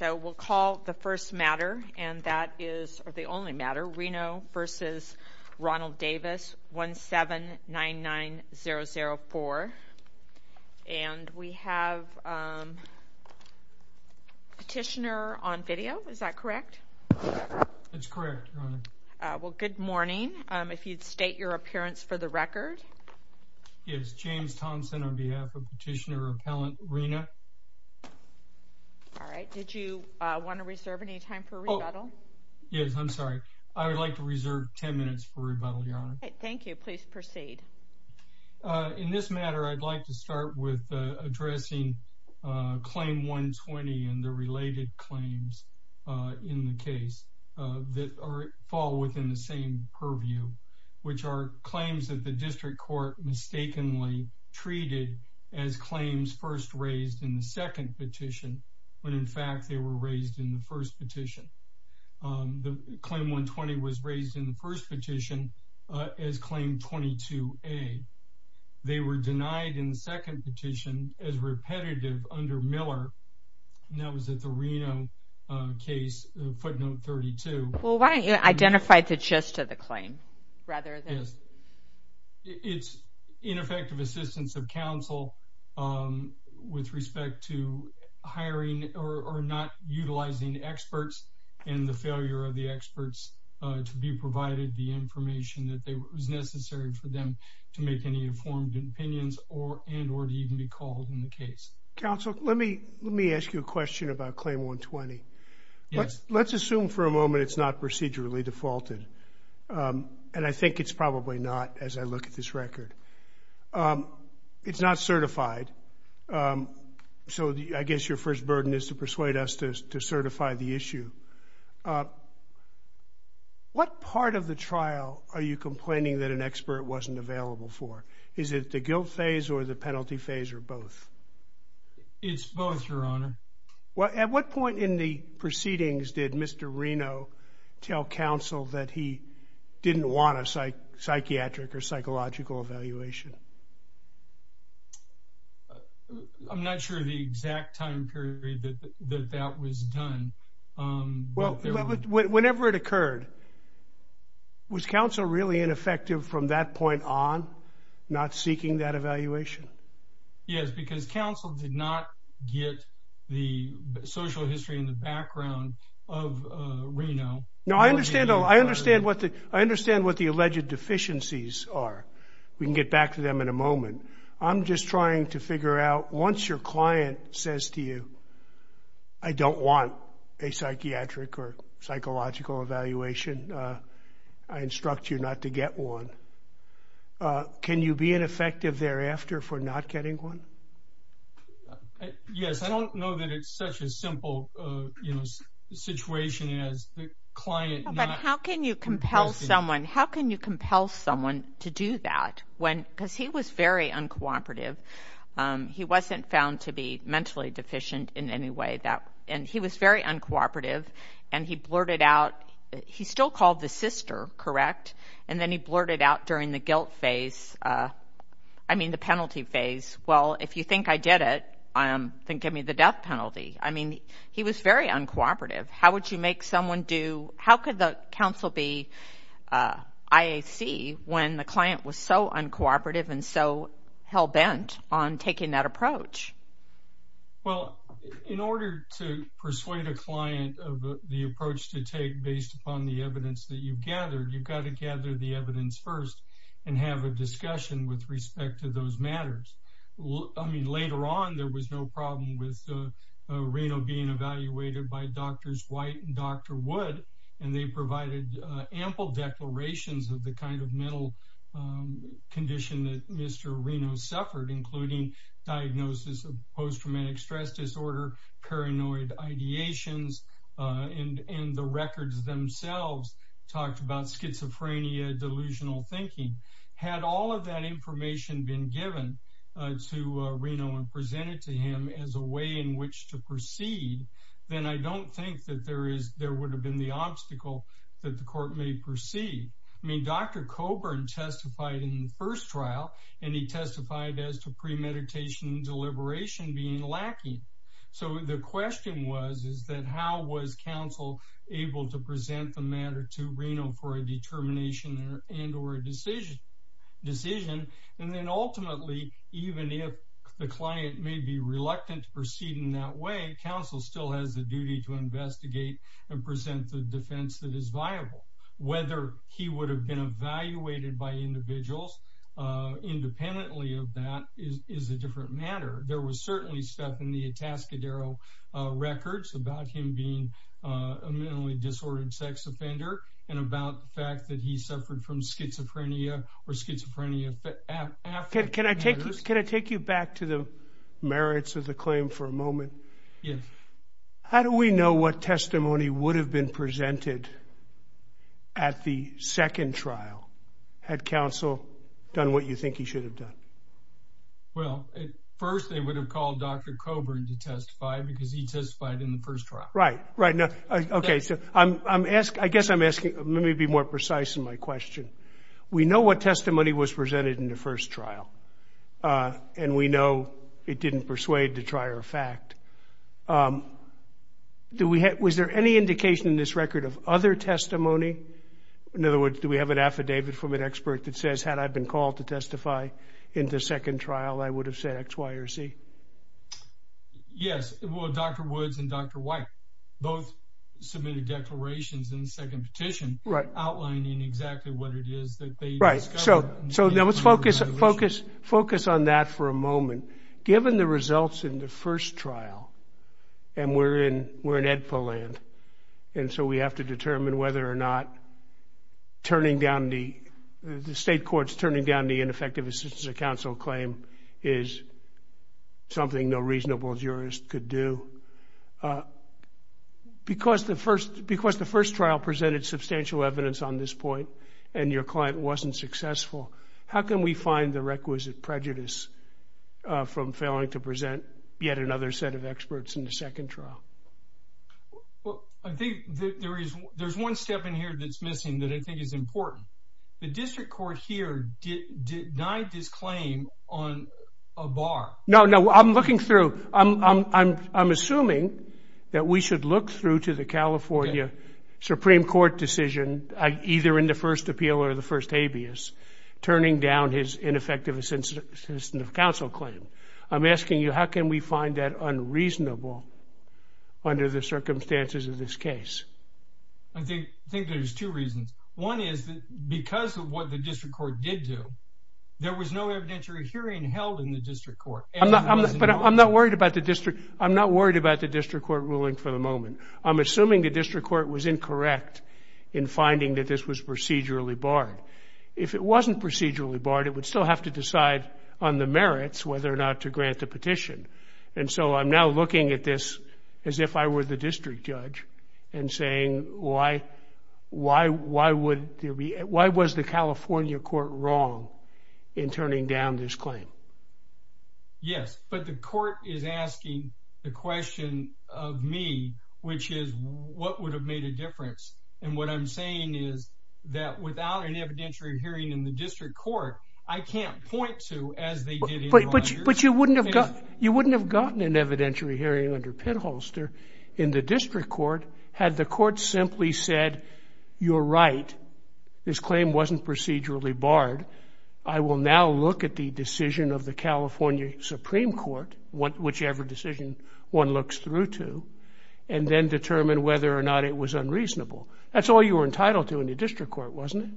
1799004. And we have Petitioner on video, is that correct? It's correct. Well, good morning. If you'd state your appearance for the record. It's James Thompson on behalf of Petitioner Appellant Rena. All right. Did you want to reserve any time for rebuttal? Yes, I'm sorry. I would like to reserve 10 minutes for rebuttal. Thank you. Please proceed. In this matter, I'd like to start with addressing Claim 120 and the related claims in the case that fall within the same purview, which are claims that the District Court mistakenly treated as claims first raised in the second petition, when in fact they were raised in the first petition. Claim 120 was raised in the first petition as Claim 22A. They were denied in the second petition as repetitive under Miller, and that was at the Reno case, footnote 32. Well, why don't you identify the gist of the claim? It's ineffective assistance of counsel with respect to hiring or not utilizing experts and the failure of the experts to be provided the information that was necessary for them to make any informed opinions and or even be called in the case. Counsel, let me ask you a question about Claim 120. Yes. Let's assume for a moment it's not procedurally defaulted, and I think it's probably not as I look at this record. It's not certified, so I guess your first burden is to persuade us to certify the issue. What part of the trial are you complaining that an expert wasn't available for? Is it the guilt phase or the penalty phase or both? It's both, Your Honor. Well, at what point in the proceedings did Mr. Reno tell counsel that he didn't want a psychiatric or psychological evaluation? I'm not sure of the exact time period that that was done. Well, whenever it occurred, was counsel really ineffective from that point on, not seeking that evaluation? Yes, because counsel did not get the social history and the background of Reno. No, I understand what the alleged deficiencies are. We can get back to them in a moment. I'm just trying to figure out, once your client says to you, I don't want a psychiatric or psychological evaluation, I instruct you not to get one, can you be ineffective thereafter for not getting one? Yes, I don't know that it's such a simple situation as the client not- How can you compel someone to do that? Because he was very uncooperative. He wasn't found to be mentally deficient in any way. And he was very uncooperative, and he blurted out, he still called the sister, correct? And then he blurted out during the guilt phase, I mean the penalty phase, well, if you think I did it, then give me the death penalty. I mean, he was very uncooperative. How could the counsel be IAC when the client was so uncooperative and so hell-bent on taking that approach? Well, in order to persuade a client of the approach to take based upon the evidence that you've gathered, you've got to gather the evidence first and have a discussion with respect to those matters. I mean, later on, there was no problem with Reno being evaluated by Drs. White and Dr. Wood, and they provided ample declarations of the kind of mental condition that Mr. Reno suffered, including diagnosis of post-traumatic stress disorder, paranoid ideations, and the records themselves talked about schizophrenia, delusional thinking. Had all of that information been given to Reno and presented to him as a way in which to proceed, then I don't think that there would have been the obstacle that the court may proceed. I mean, Dr. Coburn testified in the first trial, and he testified as to premeditation and deliberation being lacking. So the question was is that how was counsel able to present the matter to Reno for a determination and or a decision, and then ultimately, even if the client may be reluctant to proceed in that way, counsel still has the duty to investigate and present the defense that is viable. Whether he would have been evaluated by individuals independently of that is a different matter. There was certainly stuff in the Atascadero records about him being a mentally disordered sex offender and about the fact that he suffered from schizophrenia or schizophrenia after. Can I take you back to the merits of the claim for a moment? Yes. How do we know what testimony would have been presented at the second trial had counsel done what you think he should have done? Well, at first they would have called Dr. Coburn to testify because he testified in the first trial. Right, right. Okay. So I guess I'm asking, let me be more precise in my question. We know what testimony was presented in the first trial, and we know it didn't persuade the trier of fact. Was there any indication in this record of other testimony? In other words, do we have an affidavit from an expert that says, had I been called to testify in the second trial, I would have said X, Y, or Z? Yes. Well, Dr. Woods and Dr. White both submitted declarations in the second petition outlining exactly what it is that they found. Right. So let's focus on that for a moment. Given the results in the first trial, and we're in EDPA land, and so we have to determine whether or not the state court's turning down the ineffective assistance of counsel claim is something no reasonable jurist could do. Because the first trial presented substantial evidence on this point, and your client wasn't successful, how can we find the requisite prejudice from failing to present yet another set of experts in the second trial? I think there's one step in here that's missing that I think is important. The district court here denied this claim on a bar. No, no, I'm looking through. I'm assuming that we should look through to the California Supreme Court decision, either in the first appeal or the first habeas, turning down his ineffective assistance of counsel claim. I'm asking you, how can we find that unreasonable under the circumstances of this case? I think there's two reasons. One is that because of what the district court did do, there was no evidentiary hearing held in the district court. But I'm not worried about the district court ruling for the moment. I'm assuming the district court was incorrect in finding that this was procedurally barred. If it wasn't procedurally barred, it would still have to decide on the merits whether or not to grant the petition. And so I'm now looking at this as if I were the district judge and saying, why was the California court wrong in turning down this claim? Yes, but the court is asking the question of me, which is, what would have made a difference? And what I'm saying is that without an evidentiary hearing in the district court, I can't point to as they did in the last year. But you wouldn't have gotten an evidentiary hearing under Pitholster in the district court had the court simply said, you're right, this claim wasn't procedurally barred. I will now look at the decision of the California Supreme Court, whichever decision one looks through to, and then determine whether or not it was unreasonable. That's all you were entitled to in the district court, wasn't it?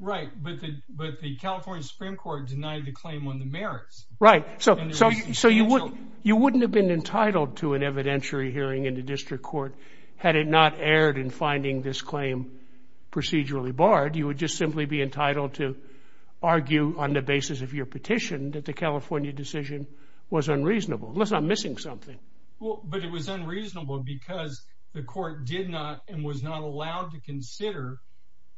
Right, but the California Supreme Court denied the claim on the merits. Right, so you wouldn't have been entitled to an evidentiary hearing in the district court had it not erred in finding this claim procedurally barred. You would just simply be entitled to argue on the basis of your petition that the California decision was unreasonable. Unless I'm missing something. But it was unreasonable because the court did not and was not allowed to consider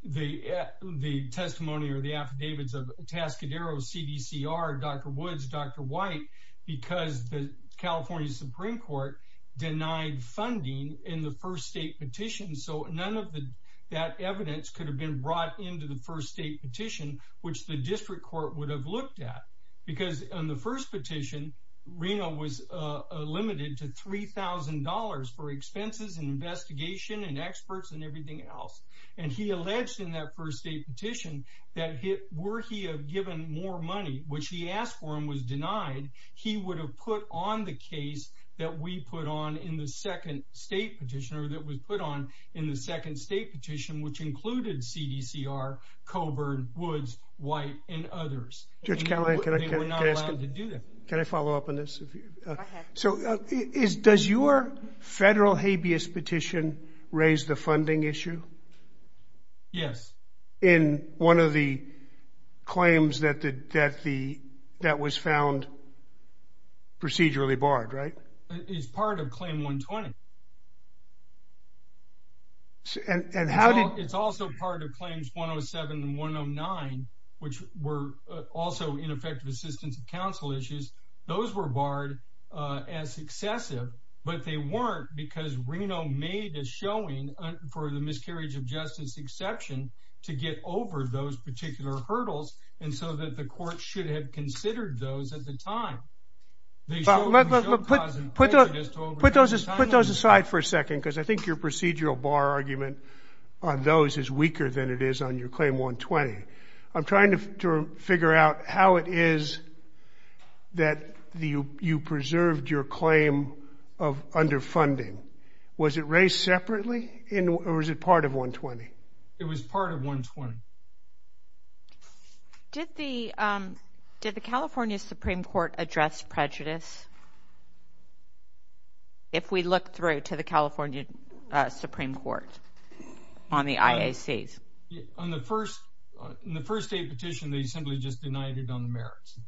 the testimony or the affidavits of Tascadero, CDCR, Dr. Woods, Dr. White, because the California Supreme Court denied funding in the first state petition. So none of that evidence could have been brought into the first state petition, which the district court would have looked at. Because in the first petition, Reno was limited to $3,000 for expenses and investigation and experts and everything else. And he alleged in that first state petition that were he given more money, which he asked for and was denied, he would have put on the case that we put on in the second state petition, or that was put on in the second state petition, which included CDCR, Coburn, Woods, White, and others. We were not allowed to do that. Can I follow up on this? Go ahead. So does your federal habeas petition raise the funding issue? Yes. In one of the claims that was found procedurally barred, right? It's part of claim 120. It's also part of claims 107 and 109, which were also ineffective assistance of counsel issues. Those were barred as excessive, but they weren't because Reno made the showing for the miscarriage of justice exception to get over those particular hurdles, and so that the court should have considered those at the time. Put those aside for a second because I think your procedural bar argument on those is weaker than it is on your claim 120. I'm trying to figure out how it is that you preserved your claim under funding. Was it raised separately, or was it part of 120? It was part of 120. Did the California Supreme Court address prejudice, if we look through to the California Supreme Court on the IACs? In the first state petition, they simply just denied it on the merits.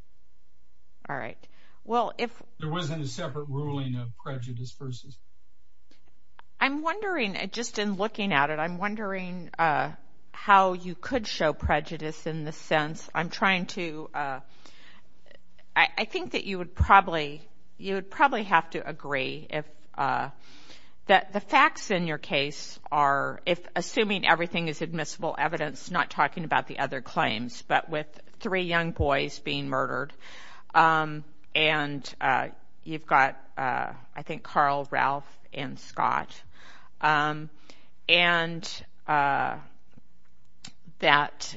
All right. There wasn't a separate ruling of prejudice versus. I'm wondering, just in looking at it, I'm wondering how you could show prejudice in the sense I'm trying to. I think that you would probably have to agree that the facts in your case are, assuming everything is admissible evidence, not talking about the other claims, but with three young boys being murdered, and you've got, I think, Carl, Ralph, and Scott. And that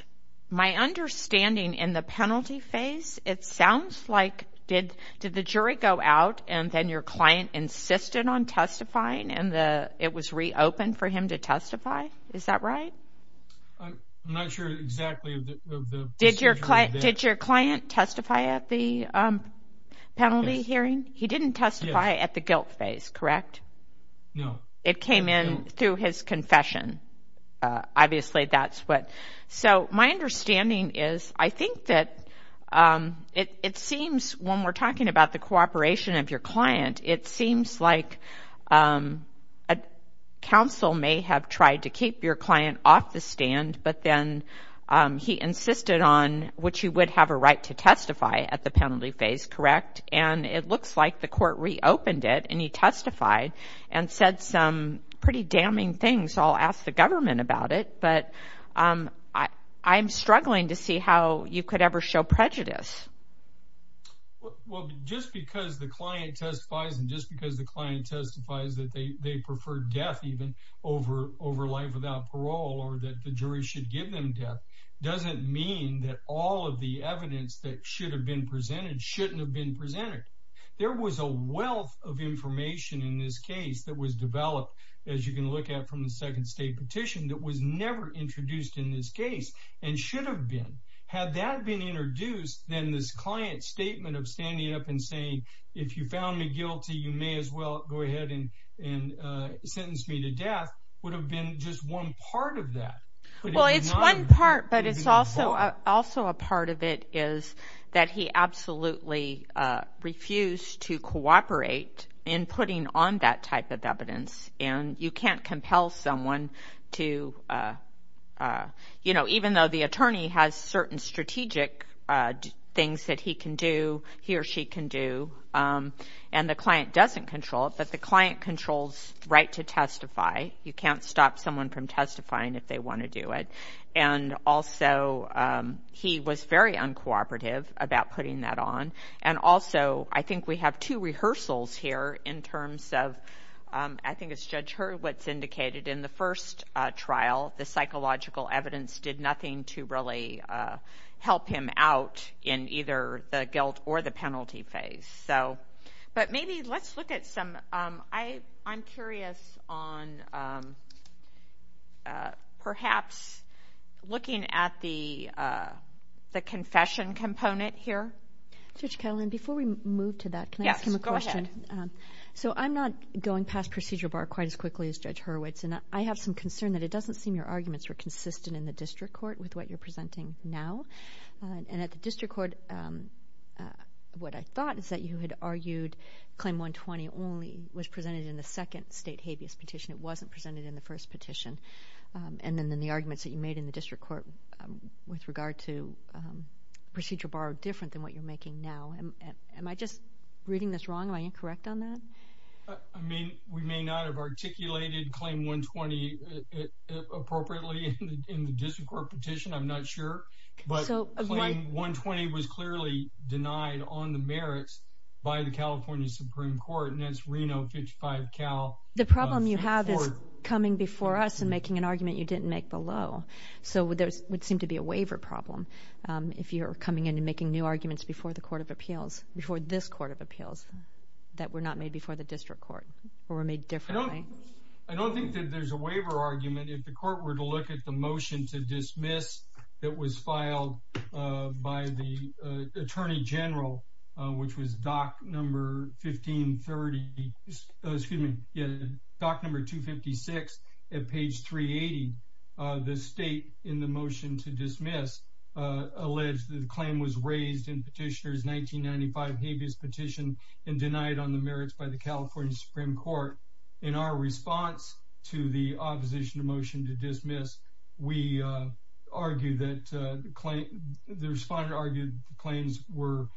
my understanding in the penalty phase, it sounds like did the jury go out and then your client insisted on testifying and it was reopened for him to testify? Is that right? I'm not sure exactly of the procedure. Did your client testify at the penalty hearing? He didn't testify at the guilt phase, correct? No. It came in through his confession. Obviously, that's what. So my understanding is I think that it seems, when we're talking about the cooperation of your client, it seems like counsel may have tried to keep your client off the stand, but then he insisted on what you would have a right to testify at the penalty phase, correct? And it looks like the court reopened it and he testified and said some pretty damning things. I'll ask the government about it, but I'm struggling to see how you could ever show prejudice. Well, just because the client testifies and just because the client testifies that they prefer death even over life without parole or that the jury should give them death doesn't mean that all of the evidence that should have been presented shouldn't have been presented. There was a wealth of information in this case that was developed, as you can look at from the second state petition, that was never introduced in this case and should have been. Had that been introduced, then this client's statement of standing up and saying, if you found me guilty, you may as well go ahead and sentence me to death, would have been just one part of that. Well, it's one part, but it's also a part of it is that he absolutely refused to cooperate in putting on that type of evidence, and you can't compel someone to, you know, even though the attorney has certain strategic things that he can do, he or she can do, and the client doesn't control it, but the client controls the right to testify. You can't stop someone from testifying if they want to do it, and also he was very uncooperative about putting that on, and also I think we have two rehearsals here in terms of, I think it's Judge Hurwitz indicated in the first trial, the psychological evidence did nothing to really help him out in either the guilt or the penalty phase. But maybe let's look at some, I'm curious on perhaps looking at the confession component here. Judge Ketelman, before we move to that, can I ask you a question? Yes, go ahead. So I'm not going past procedural bar quite as quickly as Judge Hurwitz, and I have some concern that it doesn't seem your arguments are consistent in the district court with what you're presenting now, and at the district court, what I thought is that you had argued claim 120 only was presented in the second state habeas petition. It wasn't presented in the first petition, and then the arguments that you made in the district court with regard to procedural bar are different than what you're making now. Am I just reading this wrong? Am I incorrect on that? I mean, we may not have articulated claim 120 appropriately in the district court petition. I'm not sure. But claim 120 was clearly denied on the merits by the California Supreme Court, and that's Reno 55 Cal. The problem you have is coming before us and making an argument you didn't make below. So there would seem to be a waiver problem if you're coming in and making new arguments before the court of appeals, before this court of appeals that were not made before the district court or were made differently. I don't think that there's a waiver argument. And if the court were to look at the motion to dismiss, that was filed by the attorney general, which was doc number 1530, excuse me. Yeah. Doc number two 56 at page three 80. The state in the motion to dismiss. Alleged claim was raised in petitioners. 1995 habeas petition and denied on the merits by the California Supreme Court. In our response to the opposition to motion to dismiss, we argue that the claim, the respondent argued claims were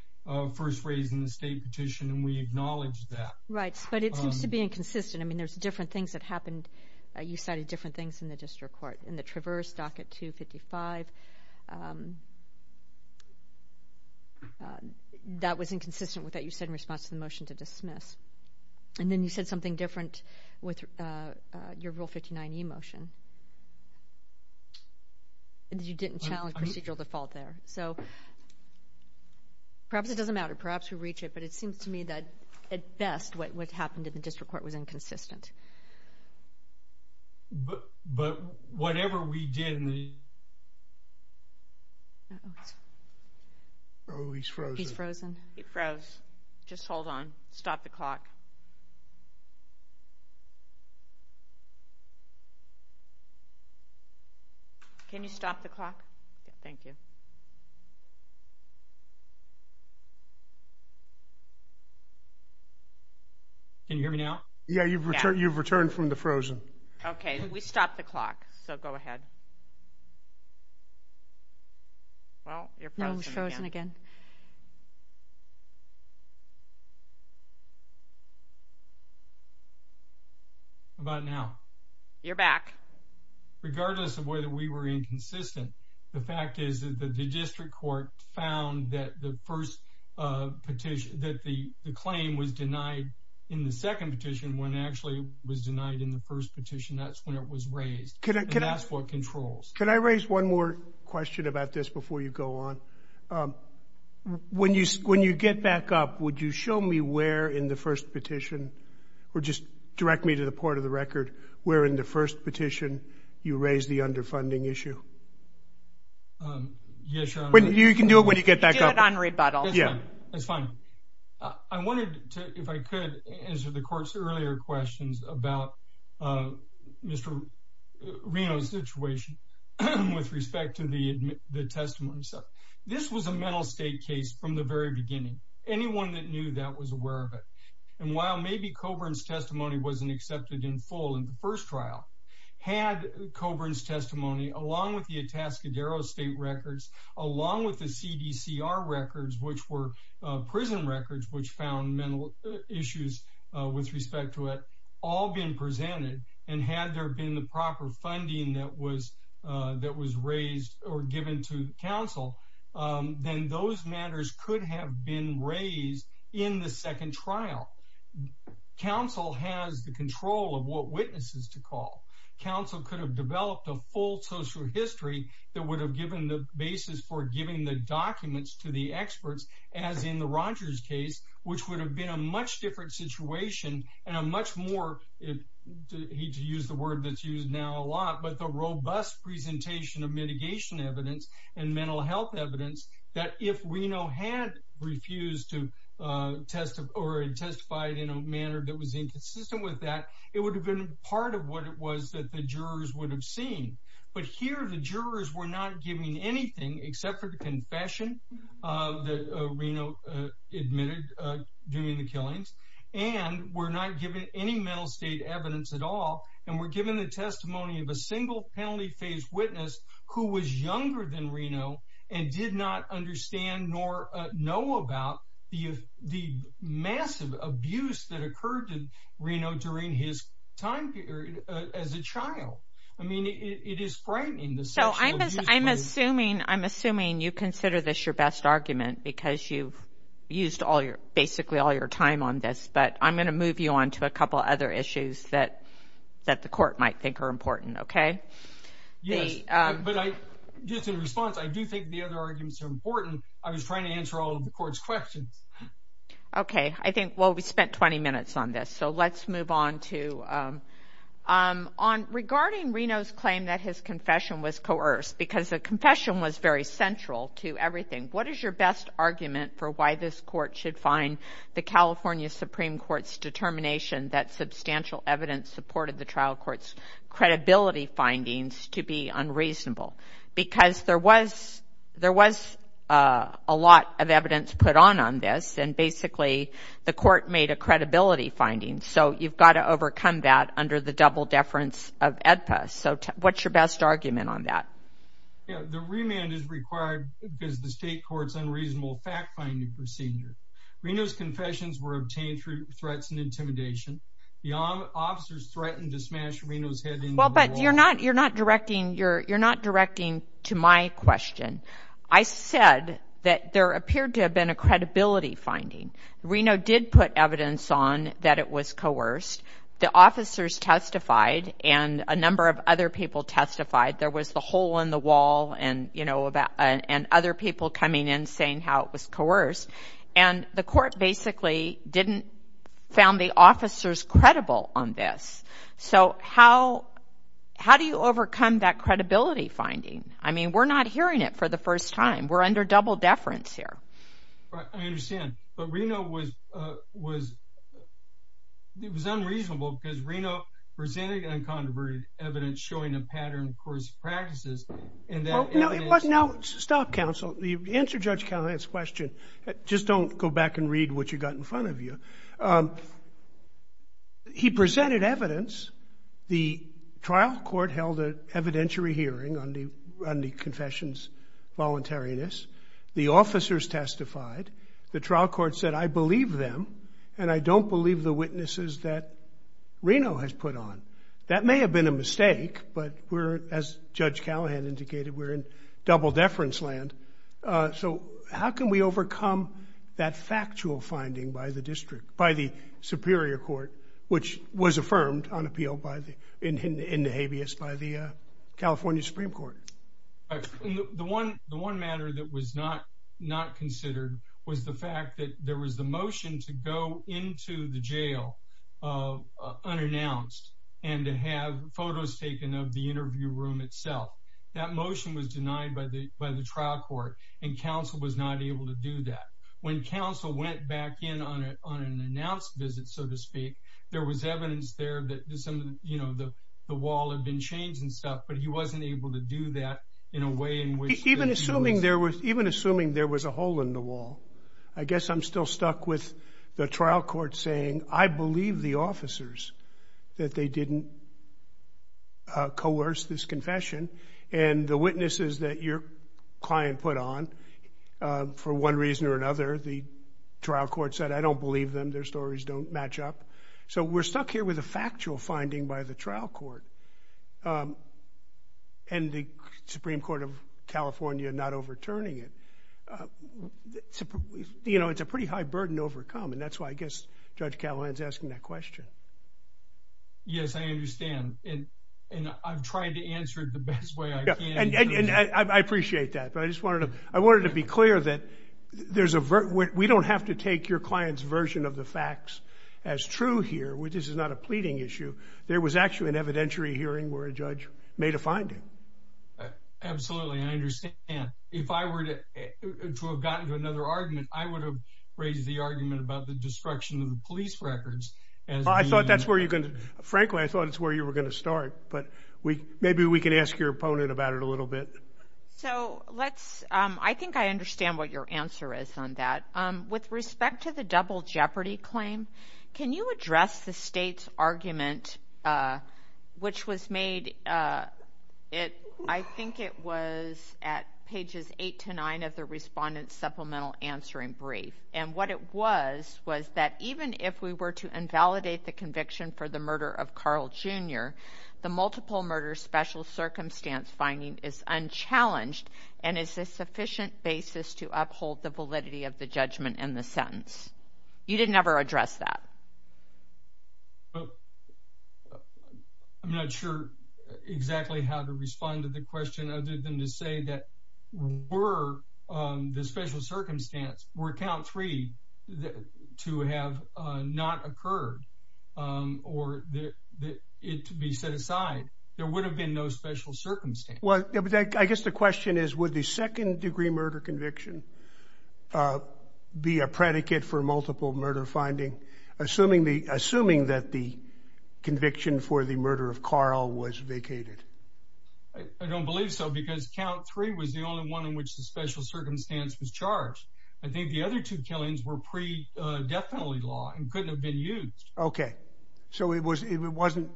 first raised in the state petition. And we acknowledge that. Right. But it seems to be inconsistent. I mean, there's different things that happened. You studied different things in the district court and the traverse doc at two 55. That was inconsistent with that. You said in response to the motion to dismiss. And then you said something different with your real 59 emotion. And you didn't challenge procedural default there. So. Perhaps it doesn't matter. Perhaps we reach it, but it seems to me that at best, what would happen to the district court was inconsistent. But, but whatever we did in the. The motion to dismiss. Oh, he's frozen. Just hold on. Stop the clock. Can you stop the clock? Thank you. Yeah, you've returned. You've returned from the frozen. Okay. We stopped the clock. Okay. So go ahead. Well, you're frozen again. About now. You're back. Regardless of whether we were inconsistent. The fact is that the district court found that the first. Petition that the claim was denied. In the second petition, when actually was denied in the first petition. That's when it was raised. Can I ask what controls? Can I raise one more question about this before you go on? When you, when you get back up, would you show me where in the first petition? Or just direct me to the part of the record. We're in the first petition. You raised the underfunding issue. You can do it when you get back up on rebuttal. Yeah. That's fine. I wanted to, if I could answer the court's earlier questions about. Mr. Reno's situation. With respect to the, the testimony. This was a mental state case from the very beginning. Anyone that knew that was aware of it. And while maybe Coburn's testimony wasn't accepted in full in the first trial. Had Coburn's testimony along with the Atascadero state records, Along with the CDC, our records, which were prison records, which found mental issues with respect to it. All being presented and had there been the proper funding that was that was raised or given to counsel, then those matters could have been raised in the second trial. Counsel has the control of what witnesses to call counsel could have developed a full social history. That would have given the basis for giving the documents to the experts as in the Rogers case, which would have been a much different situation. And a much more. He to use the word that's used now a lot, but the robust presentation of mitigation evidence and mental health evidence. That if Reno had refused to test or testify in a manner that was inconsistent with that, it would have been part of what it was that the jurors would have seen. But here the jurors were not giving anything except for the confession of the Reno admitted during the killings. And we're not giving any mental state evidence at all. And we're given the testimony of a single penalty phase witness who was younger than Reno and did not understand nor know about the, the massive abuse that occurred to Reno during his time period as a child. I mean, it is frightening. So I'm assuming, I'm assuming you consider this your best argument because you used all your basically all your time on this, but I'm going to move you on to a couple of other issues that, that the court might think are important. Okay. Yeah. But I just in response, I do think the other arguments are important. I was trying to answer all of the court's questions. Okay. I think, well, we spent 20 minutes on this, so let's move on to, on regarding Reno's claim that his confession was coerced because the confession was very central to everything. What is your best argument for why this court should find the California Supreme Court's determination that substantial evidence supported the trial court's credibility findings to be unreasonable? Because there was, there was a lot of evidence put on on this and basically the court made a credibility finding. So you've got to overcome that under the double deference of AEDPA. So what's your best argument on that? Yeah. The remand is required because the state court's unreasonable fact finding procedure. Reno's confessions were obtained through threats and intimidation. The officers threatened to smash Reno's head in the wall. Well, but you're not, you're not directing, you're, you're not directing to my question. I said that there appeared to have been a credibility finding. Reno did put evidence on that it was coerced. The officers testified and a number of other people testified. There was the hole in the wall and you know about, and other people coming in saying how it was coerced and the court basically didn't found the officers credible on this. So how, how do you overcome that credibility finding? I mean, we're not hearing it for the first time. We're under double deference here. I understand, but Reno was, uh, was, it was unreasonable because Reno presented uncontroverted evidence showing a pattern of coercive practices. Now, stop counsel. Answer Judge Callahan's question. Just don't go back and read what you got in front of you. He presented evidence. The trial court held an evidentiary hearing on the, on the confessions voluntariness. The officers testified. The trial court said, I believe them and I don't believe the witnesses that Reno has put on. That may have been a mistake, but we're, as Judge Callahan indicated, we're in double deference land. Uh, so how can we overcome that factual finding by the district, by the superior court, which was affirmed on appeal by the, in the habeas by the California Supreme Court. The one, the one matter that was not, not considered was the fact that there was the motion to go into the jail, uh, unannounced and to have photos taken of the interview room itself. That motion was denied by the, by the trial court and counsel was not able to do that. When counsel went back in on a, on an announced visit, so to speak, there was evidence there that, you know, the wall had been changed and stuff, but he wasn't able to do that in a way in which even assuming there was even assuming there was a hole in the wall, I guess I'm still stuck with the trial court saying, I believe the officers that they didn't, uh, coerce this confession and the witnesses that your client put on, uh, for one reason or another, the trial court said, I don't believe them. Their stories don't match up. So we're stuck here with a factual finding by the trial court. Um, and the Supreme court of California, not overturning it, uh, you know, it's a pretty high burden to overcome. And that's why I guess judge Callahan's asking that question. Yes, I understand. And, and I'm trying to answer the best way I can. I appreciate that. But I just wanted to, I wanted to be clear that there's a, we don't have to take your client's version of the facts as true here, which is not a pleading issue. There was actually an evidentiary hearing where a judge made a finding. Absolutely. I understand. If I were to, to have gotten to another argument, I would have raised the argument about the destruction of the police records. I thought that's where you can, frankly, I thought it's where you were going to start, but we, maybe we can ask your opponent about it a little bit. So let's, um, I think I understand what your answer is on that. Um, with respect to the double jeopardy claim, can you address the state's argument, uh, which was made, uh, it, I think it was at pages eight to nine of the Respondent's Supplemental Answering Brief. And what it was was that even if we were to invalidate the conviction for the murder of Carl Jr., the multiple murder special circumstance finding is unchallenged and is a sufficient basis to uphold the validity of the judgment in the sentence. You didn't ever address that. I'm not sure exactly how to respond to the question other than to say that were, um, the special circumstance were count three to have not occurred, um, or it to be set aside, there would have been no special circumstance. Well, I guess the question is, would the second degree murder conviction, uh, be a predicate for multiple murder finding? Assuming the, assuming that the conviction for the murder of Carl was vacated. I don't believe so, because count three was the only one in which the special circumstance was charged. I think the other two killings were pre, uh, definitely law and couldn't have been used. Okay. So it was, it wasn't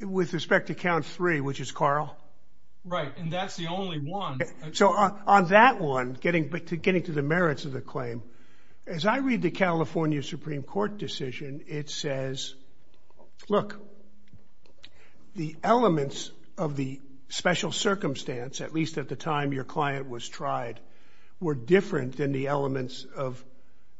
with respect to count three, which is Carl. Right. And that's the only one. So on that one, getting back to getting to the merits of the claim, as I read the California Supreme Court decision, it says, look, the elements of the special circumstance, at least at the time your client was tried, were different than the elements of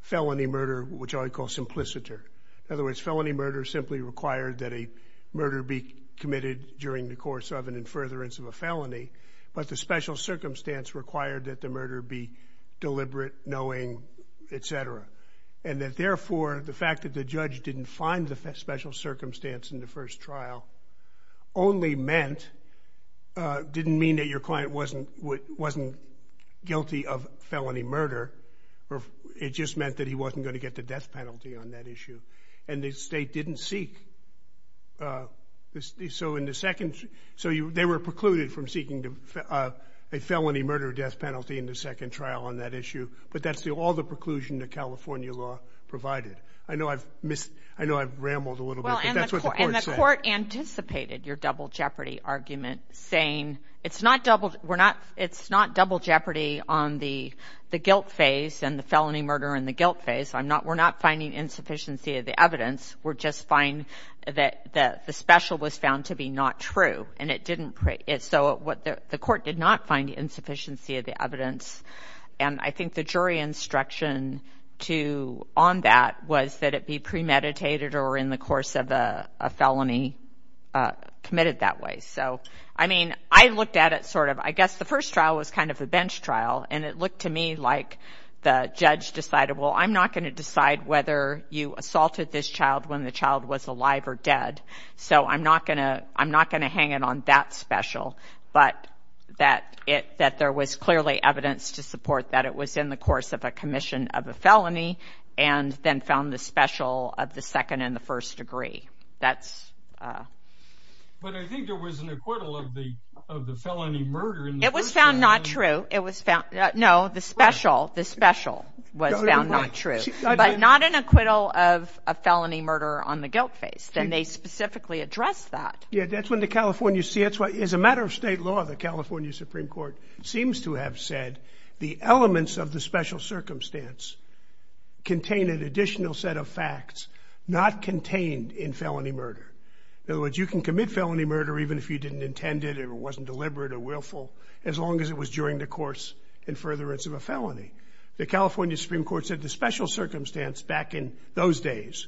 felony murder, which I would call simplicity. In other words, felony murder simply required that a murder be committed during the course of and in furtherance of a felony. But the special circumstance required that the murder be deliberate, knowing, et cetera. And that therefore, the fact that the judge didn't find the special circumstance in the first trial only meant, uh, didn't mean that your client wasn't, wasn't guilty of felony murder, or it just meant that he wasn't going to get the death penalty on that issue. And the state didn't seek, uh, this. So in the second, so they were precluded from seeking to, uh, a felony murder death penalty in the second trial on that issue. But that's the, all the preclusion that California law provided. I know I've missed, I know I've rambled a little bit, but that's what the court said. The court anticipated your double jeopardy argument saying it's not double. We're not, it's not double jeopardy on the, the guilt phase and the felony murder and the guilt phase. I'm not, we're not finding insufficiency of the evidence. We're just fine that the, the special was found to be not true and it didn't, so what the court did not find the insufficiency of the evidence. And I think the jury instruction to, on that was that it be premeditated or in the course of the, a felony, uh, committed that way. So, I mean, I looked at it sort of, I guess the first trial was kind of a bench trial and it looked to me like the judge decided, well, I'm not going to decide whether you assaulted this child when the child was alive or dead. So I'm not going to, I'm not going to hang it on that special, but that it, that there was clearly evidence to support that it was in the course of a commission of a felony and then found the special of the second and the first degree. That's, uh, But I think there was an acquittal of the, of the felony murder. It was found not true. It was found, no, the special, the special was found not true, but not an acquittal of a felony murder on the guilt face. And they specifically address that. Yeah. That's when the California see it's what is a matter of state law. The California Supreme court seems to have said the elements of the special circumstance contain an additional set of facts, not contained in felony murder. In other words, you can commit felony murder, even if you didn't intend it or it wasn't deliberate or willful, as long as it was during the course and furtherance of a felony. The California Supreme court said the special circumstance back in those days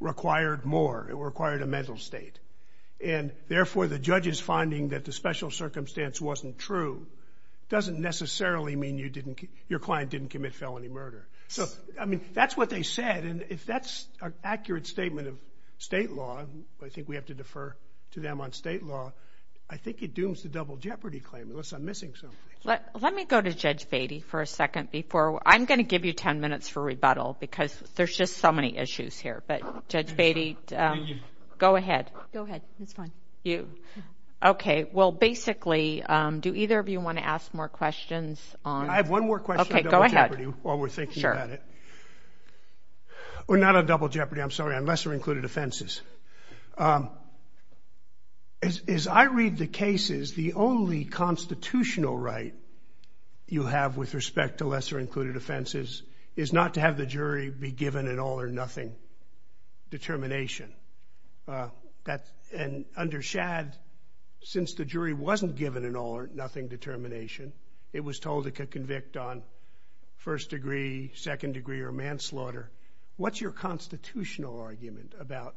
required more. It required a mental state. And therefore the judge is finding that the special circumstance wasn't true. Doesn't necessarily mean you didn't, your client didn't commit felony murder. So, I mean, that's what they said. And if that's an accurate statement of state law, I think we have to defer to them on state law. I think it dooms the double jeopardy claim. Unless I'm missing something. Let me go to judge baby for a second before I'm going to give you 10 minutes for rebuttal, because there's just so many issues here. But judge baby, go ahead. Go ahead. You. Okay. Well, basically, do either of you want to ask more questions? I have one more question. Okay, go ahead. we're thinking about it. We're not a double jeopardy. I'm sorry. Unless you're included offenses. As I read the cases, the only constitutional right you have with respect to lesser included offenses is not to have the jury be given an all or nothing determination. That and undershad, since the jury wasn't given an all or nothing determination, it was told it could convict on first degree, second degree or manslaughter. What's your constitutional argument about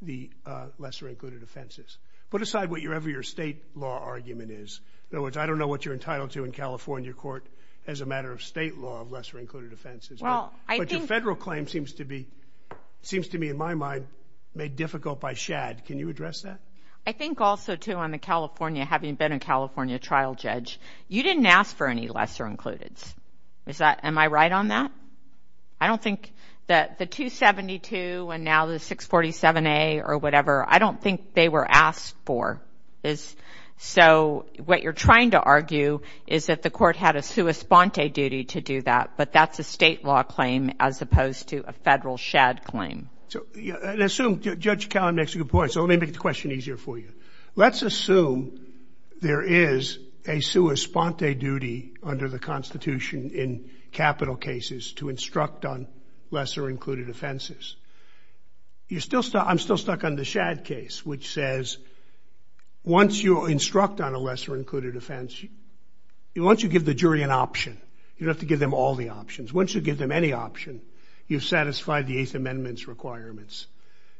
the lesser included offenses? Put aside whatever your state law argument is. In other words, I don't know what you're entitled to in California court as a matter of state law of lesser included offenses. Well, I think federal claim seems to be seems to me in my mind, made difficult by shad. Can you address that? I think also, too, I'm in California. Having been in California trial judge, you didn't ask for any lesser included. Is that am I right on that? I don't think that the 272 and now the 647 a or whatever. I don't think they were asked for this. So what you're trying to argue is that the court had a sui sponte duty to do that. But that's a state law claim as opposed to a federal shad claim. So I assume Judge Cowan makes a good point. So let me make the question easier for you. Let's assume there is a sui sponte duty under the Constitution in capital cases to instruct on lesser included offenses. I'm still stuck on the shad case, which says once you instruct on a lesser included offense, once you give the jury an option, you have to give them all the options. Once you give them any option, you've satisfied the 8th Amendment's requirements.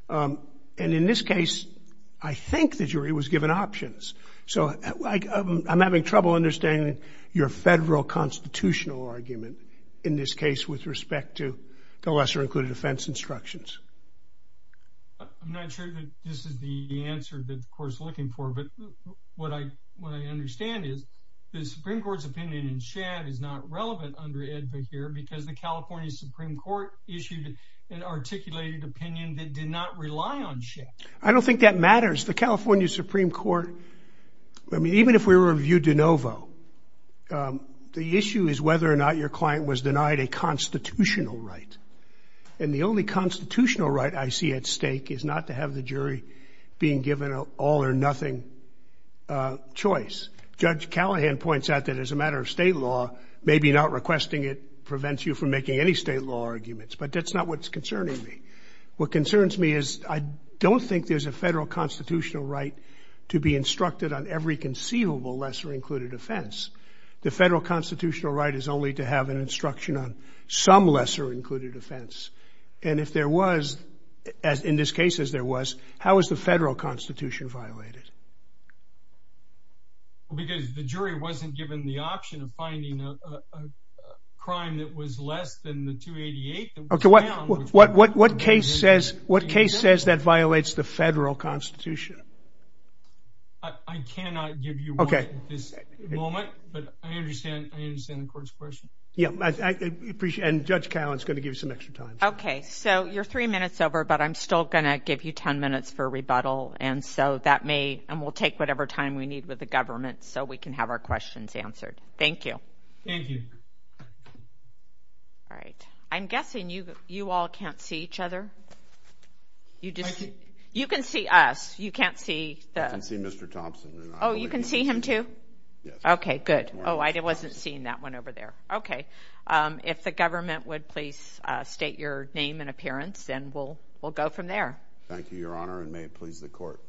And in this case, I think the jury was given options. So I'm having trouble understanding your federal constitutional argument in this case with respect to the lesser included offense instructions. I'm not sure that this is the answer that the court is looking for, but what I understand is the Supreme Court's opinion in shad is not relevant under Edvin here, because the California Supreme Court issued an articulated opinion that did not rely on shad. I don't think that matters. The California Supreme Court, I mean, even if we reviewed de novo, the issue is whether or not your client was denied a constitutional right. And the only constitutional right I see at stake is not to have the jury being given an all or nothing choice. Judge Callahan points out that as a matter of state law, maybe not requesting it prevents you from making any state law arguments. But that's not what's concerning me. What concerns me is I don't think there's a federal constitutional right to be instructed on every conceivable lesser included offense. The federal constitutional right is only to have an instruction on some lesser included offense. And if there was, in this case, as there was, how is the federal constitution violated? Because the jury wasn't given the option of finding a crime that was less than the 288. Okay, what case says that violates the federal constitution? I cannot give you one at this moment, but I understand the court's question. Yeah, and Judge Callahan is going to give us some extra time. Okay, so you're three minutes over, but I'm still going to give you ten minutes for rebuttal, and we'll take whatever time we need with the government so we can have our questions answered. Thank you. Thank you. All right. I'm guessing you all can't see each other. You can see us. You can't see the – I can see Mr. Thompson. Oh, you can see him too? Yes. Okay, good. Oh, I wasn't seeing that one over there. Okay. If the government would please state your name and appearance, then we'll go from there. Thank you, Your Honor, and may it please the court.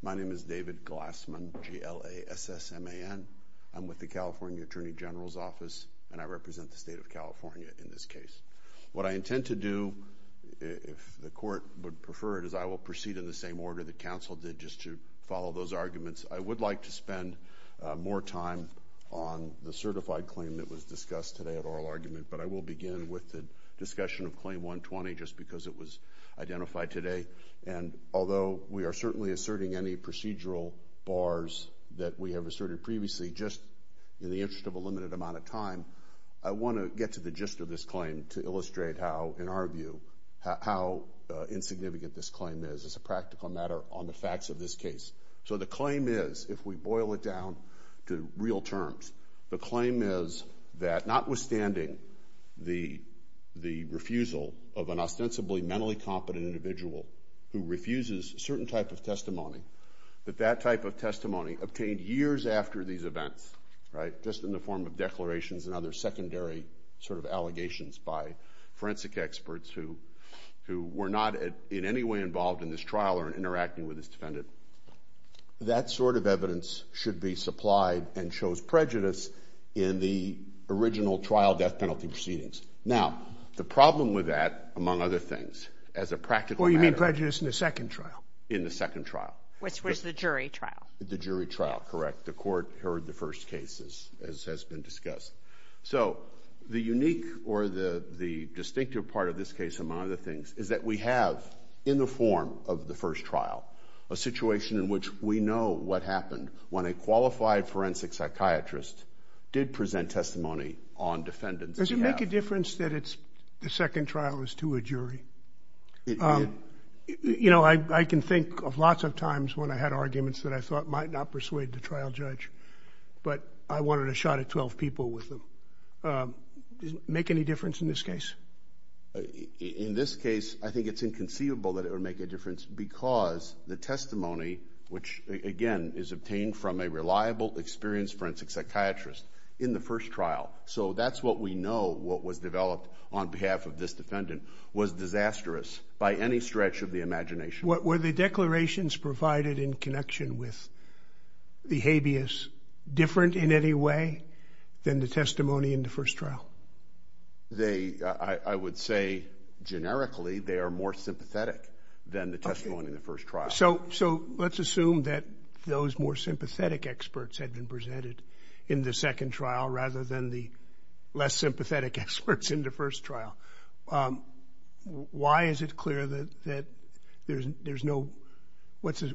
My name is David Glassman, G-L-A-S-S-M-A-N. I'm with the California Attorney General's Office, and I represent the State of California in this case. What I intend to do, if the court would prefer it, is I will proceed in the same order the counsel did, just to follow those arguments. I would like to spend more time on the certified claim that was discussed today at oral argument, but I will begin with the discussion of Claim 120 just because it was identified today. And although we are certainly asserting any procedural bars that we have asserted previously, just in the interest of a limited amount of time, I want to get to the gist of this claim to illustrate how, in our view, how insignificant this claim is. It's a practical matter on the facts of this case. So the claim is, if we boil it down to real terms, the claim is that notwithstanding the refusal of an ostensibly mentally competent individual who refuses a certain type of testimony, that that type of testimony obtained years after these events, just in the form of declarations and other secondary sort of allegations by forensic experts who were not in any way involved in this trial or in interacting with this defendant, that sort of evidence should be supplied and shows prejudice in the original trial death penalty proceedings. Now, the problem with that, among other things, as a practical matter... Well, you mean prejudice in the second trial. In the second trial. Which was the jury trial. The jury trial, correct. The court heard the first case, as has been discussed. So, the unique or the distinctive part of this case, among other things, is that we have, in the form of the first trial, a situation in which we know what happened when a qualified forensic psychiatrist did present testimony on defendants. Does it make a difference that the second trial is to a jury? You know, I can think of lots of times when I had arguments that I thought might not persuade the trial judge, but I wanted a shot at 12 people with them. Does it make any difference in this case? In this case, I think it's inconceivable that it would make a difference because the testimony, which, again, is obtained from a reliable, experienced forensic psychiatrist in the first trial, so that's what we know what was developed on behalf of this defendant, was disastrous by any stretch of the imagination. Were the declarations provided in connection with the habeas different in any way than the testimony in the first trial? I would say, generically, they are more sympathetic than the testimony in the first trial. So, let's assume that those more sympathetic experts had been presented in the second trial rather than the less sympathetic experts in the first trial. Why is it clear that there's no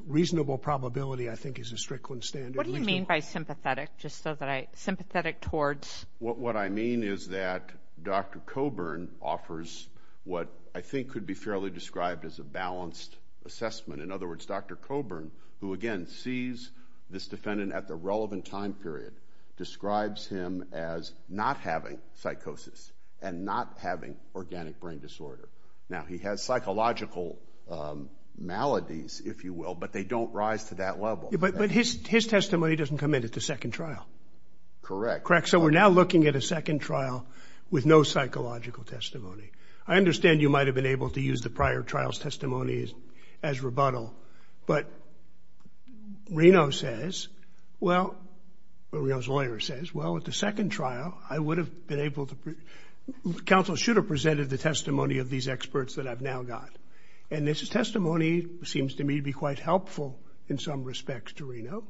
reasonable probability, I think, is a strict one standard? What do you mean by sympathetic, just so that I – sympathetic towards? What I mean is that Dr. Coburn offers what I think could be fairly described as a balanced assessment. In other words, Dr. Coburn, who again sees this defendant at the relevant time period, describes him as not having psychosis and not having organic brain disorder. Now, he has psychological maladies, if you will, but they don't rise to that level. But his testimony doesn't come in at the second trial. Correct. Correct. So, we're now looking at a second trial with no psychological testimony. I understand you might have been able to use the prior trial's testimony as rebuttal, but Reno says – well, Reno's lawyer says, well, at the second trial, I would have been able to – counsel should have presented the testimony of these experts that I've now got. And this testimony seems to me to be quite helpful in some respects to Reno,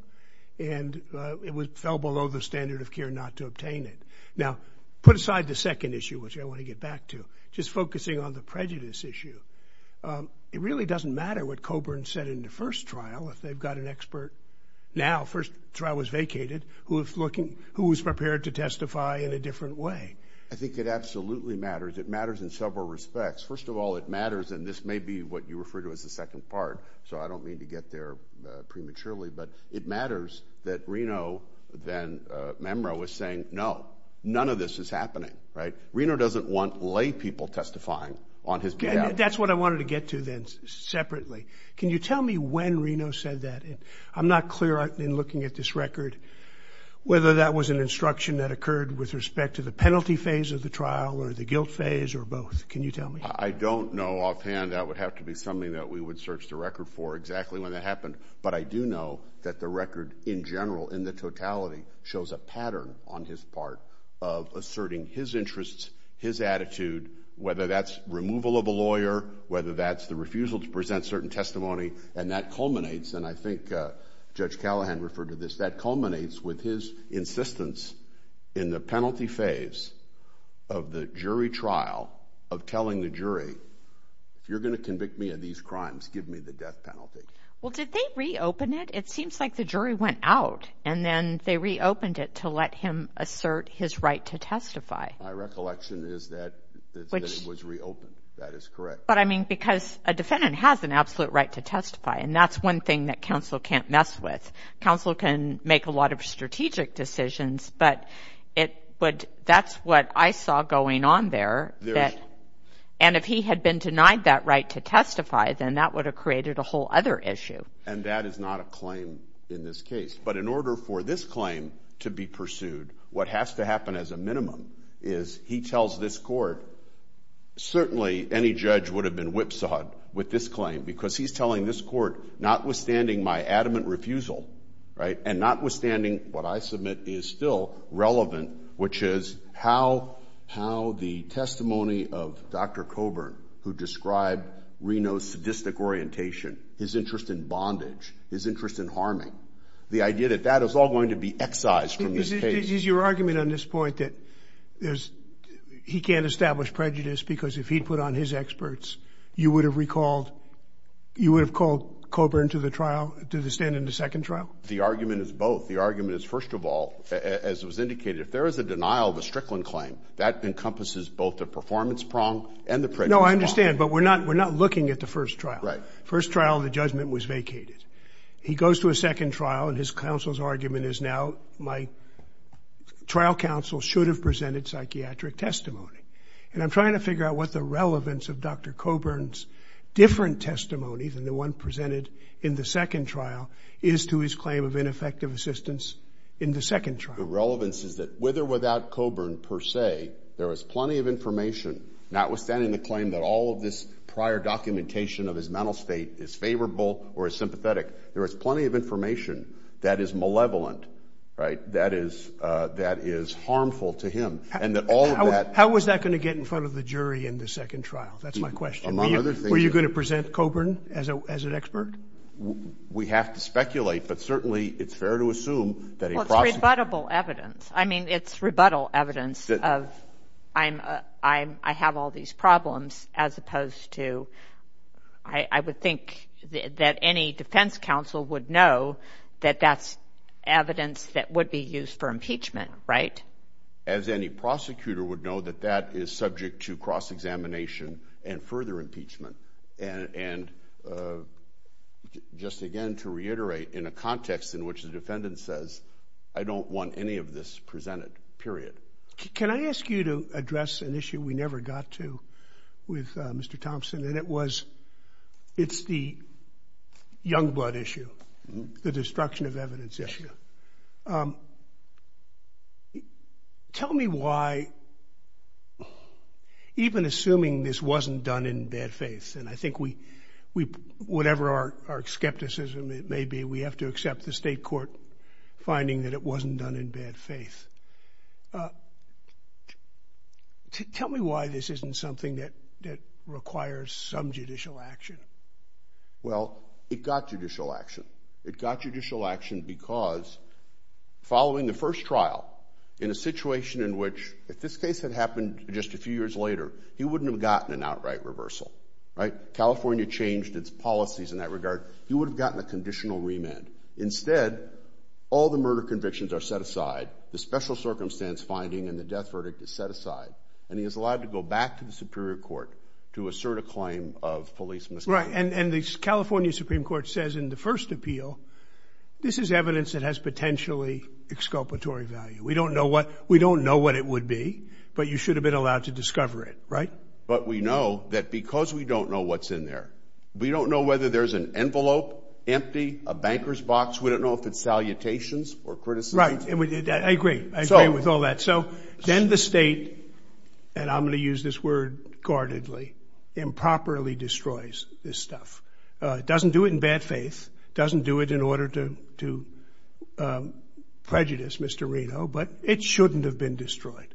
and it fell below the standard of care not to obtain it. Now, put aside the second issue, which I want to get back to, just focusing on the prejudice issue. It really doesn't matter what Coburn said in the first trial if they've got an expert now – first trial was vacated – who is looking – who is prepared to testify in a different way. I think it absolutely matters. It matters in several respects. First of all, it matters – and this may be what you refer to as the second part, so I don't mean to get there prematurely, but it matters that Reno then – Memra was saying, no, none of this is happening, right? Reno doesn't want laypeople testifying on his behalf. And that's what I wanted to get to then separately. Can you tell me when Reno said that? I'm not clear in looking at this record whether that was an instruction that occurred with respect to the penalty phase of the trial or the guilt phase or both. Can you tell me? I don't know offhand. That would have to be something that we would search the record for exactly when it happened. But I do know that the record in general, in the totality, shows a pattern on his part of asserting his interests, his attitude, whether that's removal of a lawyer, whether that's the refusal to present certain testimony. And that culminates – and I think Judge Callahan referred to this – that culminates with his insistence in the penalty phase of the jury trial of telling the jury, if you're going to convict me of these crimes, give me the death penalty. Well, did they reopen it? It seems like the jury went out and then they reopened it to let him assert his right to testify. My recollection is that it was reopened. That is correct. But, I mean, because a defendant has an absolute right to testify, and that's one thing that counsel can't mess with. Counsel can make a lot of strategic decisions, but that's what I saw going on there. And if he had been denied that right to testify, then that would have created a whole other issue. And that is not a claim in this case. But in order for this claim to be pursued, what has to happen as a minimum is he tells this court, certainly any judge would have been whipsawed with this claim, because he's telling this court, notwithstanding my adamant refusal, and notwithstanding what I submit is still relevant, which is how the testimony of Dr. Coburn, who described Reno's sadistic orientation, his interest in bondage, his interest in harming, the idea that that is all going to be excised from this case. Is your argument on this point that he can't establish prejudice because if he put on his experts, you would have recalled Coburn to the stand in the second trial? The argument is both. The argument is, first of all, as was indicated, if there is a denial of a Strickland claim, that encompasses both the performance prong and the prejudice prong. No, I understand, but we're not looking at the first trial. First trial, the judgment was vacated. He goes to a second trial, and his counsel's argument is now, my trial counsel should have presented psychiatric testimony. And I'm trying to figure out what the relevance of Dr. Coburn's different testimony than the one presented in the second trial is to his claim of ineffective assistance in the second trial. The relevance is that with or without Coburn, per se, there is plenty of information, notwithstanding the claim that all of this prior documentation of his mental state is favorable or is sympathetic, there is plenty of information that is malevolent, that is harmful to him. How is that going to get in front of the jury in the second trial? That's my question. Were you going to present Coburn as an expert? We have to speculate, but certainly it's fair to assume that a process... Well, it's rebuttable evidence. I mean, it's rebuttal evidence of, I have all these problems, as opposed to, I would think that any defense counsel would know that that's evidence that would be used for impeachment, right? As any prosecutor would know that that is subject to cross-examination and further impeachment. And just again, to reiterate, in a context in which the defendant says, I don't want any of this presented, period. Can I ask you to address an issue we never got to with Mr. Thompson? It's the young blood issue, the destruction of evidence issue. Tell me why, even assuming this wasn't done in bad faith, and I think whatever our skepticism may be, we have to accept the state court finding that it wasn't done in bad faith. Tell me why this isn't something that requires some judicial action. Well, it got judicial action. It got judicial action because, following the first trial, in a situation in which, if this case had happened just a few years later, he wouldn't have gotten an outright reversal, right? California changed its policies in that regard. He would have gotten a conditional remand. Instead, all the murder convictions are set aside. The special circumstance finding and the death verdict is set aside. And he is allowed to go back to the Superior Court to assert a claim of police misdemeanor. Right, and the California Supreme Court says in the first appeal, this is evidence that has potentially exculpatory value. We don't know what it would be, but you should have been allowed to discover it, right? But we know that because we don't know what's in there, we don't know whether there's an envelope empty, a banker's box. We don't know if it's salutations or criticism. Right, I agree. I agree with all that. So then the state, and I'm going to use this word guardedly, improperly destroys this stuff. It doesn't do it in bad faith. It doesn't do it in order to prejudice Mr. Reno, but it shouldn't have been destroyed,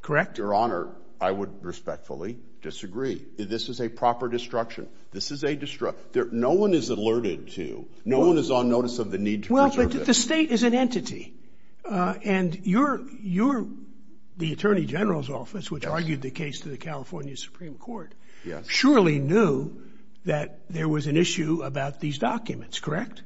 correct? Your Honor, I would respectfully disagree. This is a proper destruction. This is a destruction. No one is alerted to, no one is on notice of the need to preserve it. Well, the state is an entity, and you're the Attorney General's office, which argued the case to the California Supreme Court, surely knew that there was an issue about these documents, correct?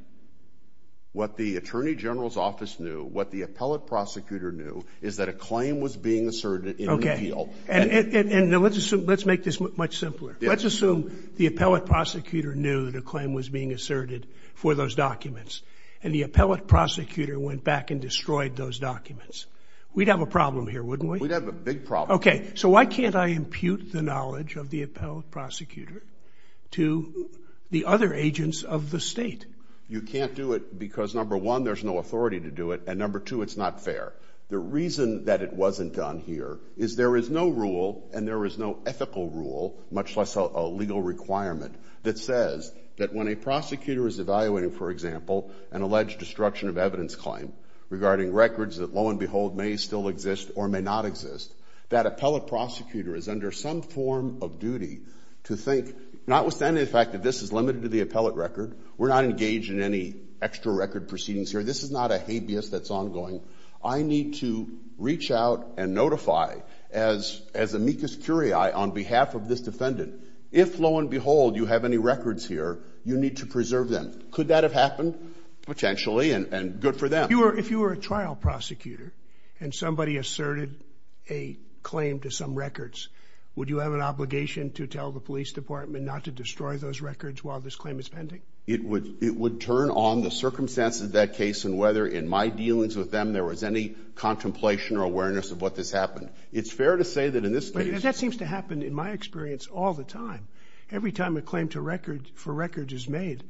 What the Attorney General's office knew, what the appellate prosecutor knew, is that a claim was being asserted in the appeal. And let's make this much simpler. Let's assume the appellate prosecutor knew the claim was being asserted for those documents, and the appellate prosecutor went back and destroyed those documents. We'd have a problem here, wouldn't we? We'd have a big problem. Okay, so why can't I impute the knowledge of the appellate prosecutor to the other agents of the state? You can't do it because, number one, there's no authority to do it, and number two, it's not fair. The reason that it wasn't done here is there is no rule, and there is no ethical rule, much less a legal requirement, that says that when a prosecutor is evaluating, for example, an alleged destruction of evidence claim regarding records that, lo and behold, may still exist or may not exist, that appellate prosecutor is under some form of duty to think, notwithstanding the fact that this is limited to the appellate record, we're not engaged in any extra record proceedings here, this is not a habeas that's ongoing, I need to reach out and notify, as amicus curiae, on behalf of this defendant, if, lo and behold, you have any records here, you need to preserve them. Could that have happened? Potentially, and good for them. If you were a trial prosecutor, and somebody asserted a claim to some records, would you have an obligation to tell the police department not to destroy those records while this claim is pending? It would turn on the circumstances of that case and whether, in my dealings with them, there was any contemplation or awareness of what had happened. It's fair to say that in this case... That seems to happen, in my experience, all the time. Every time a claim for records is made,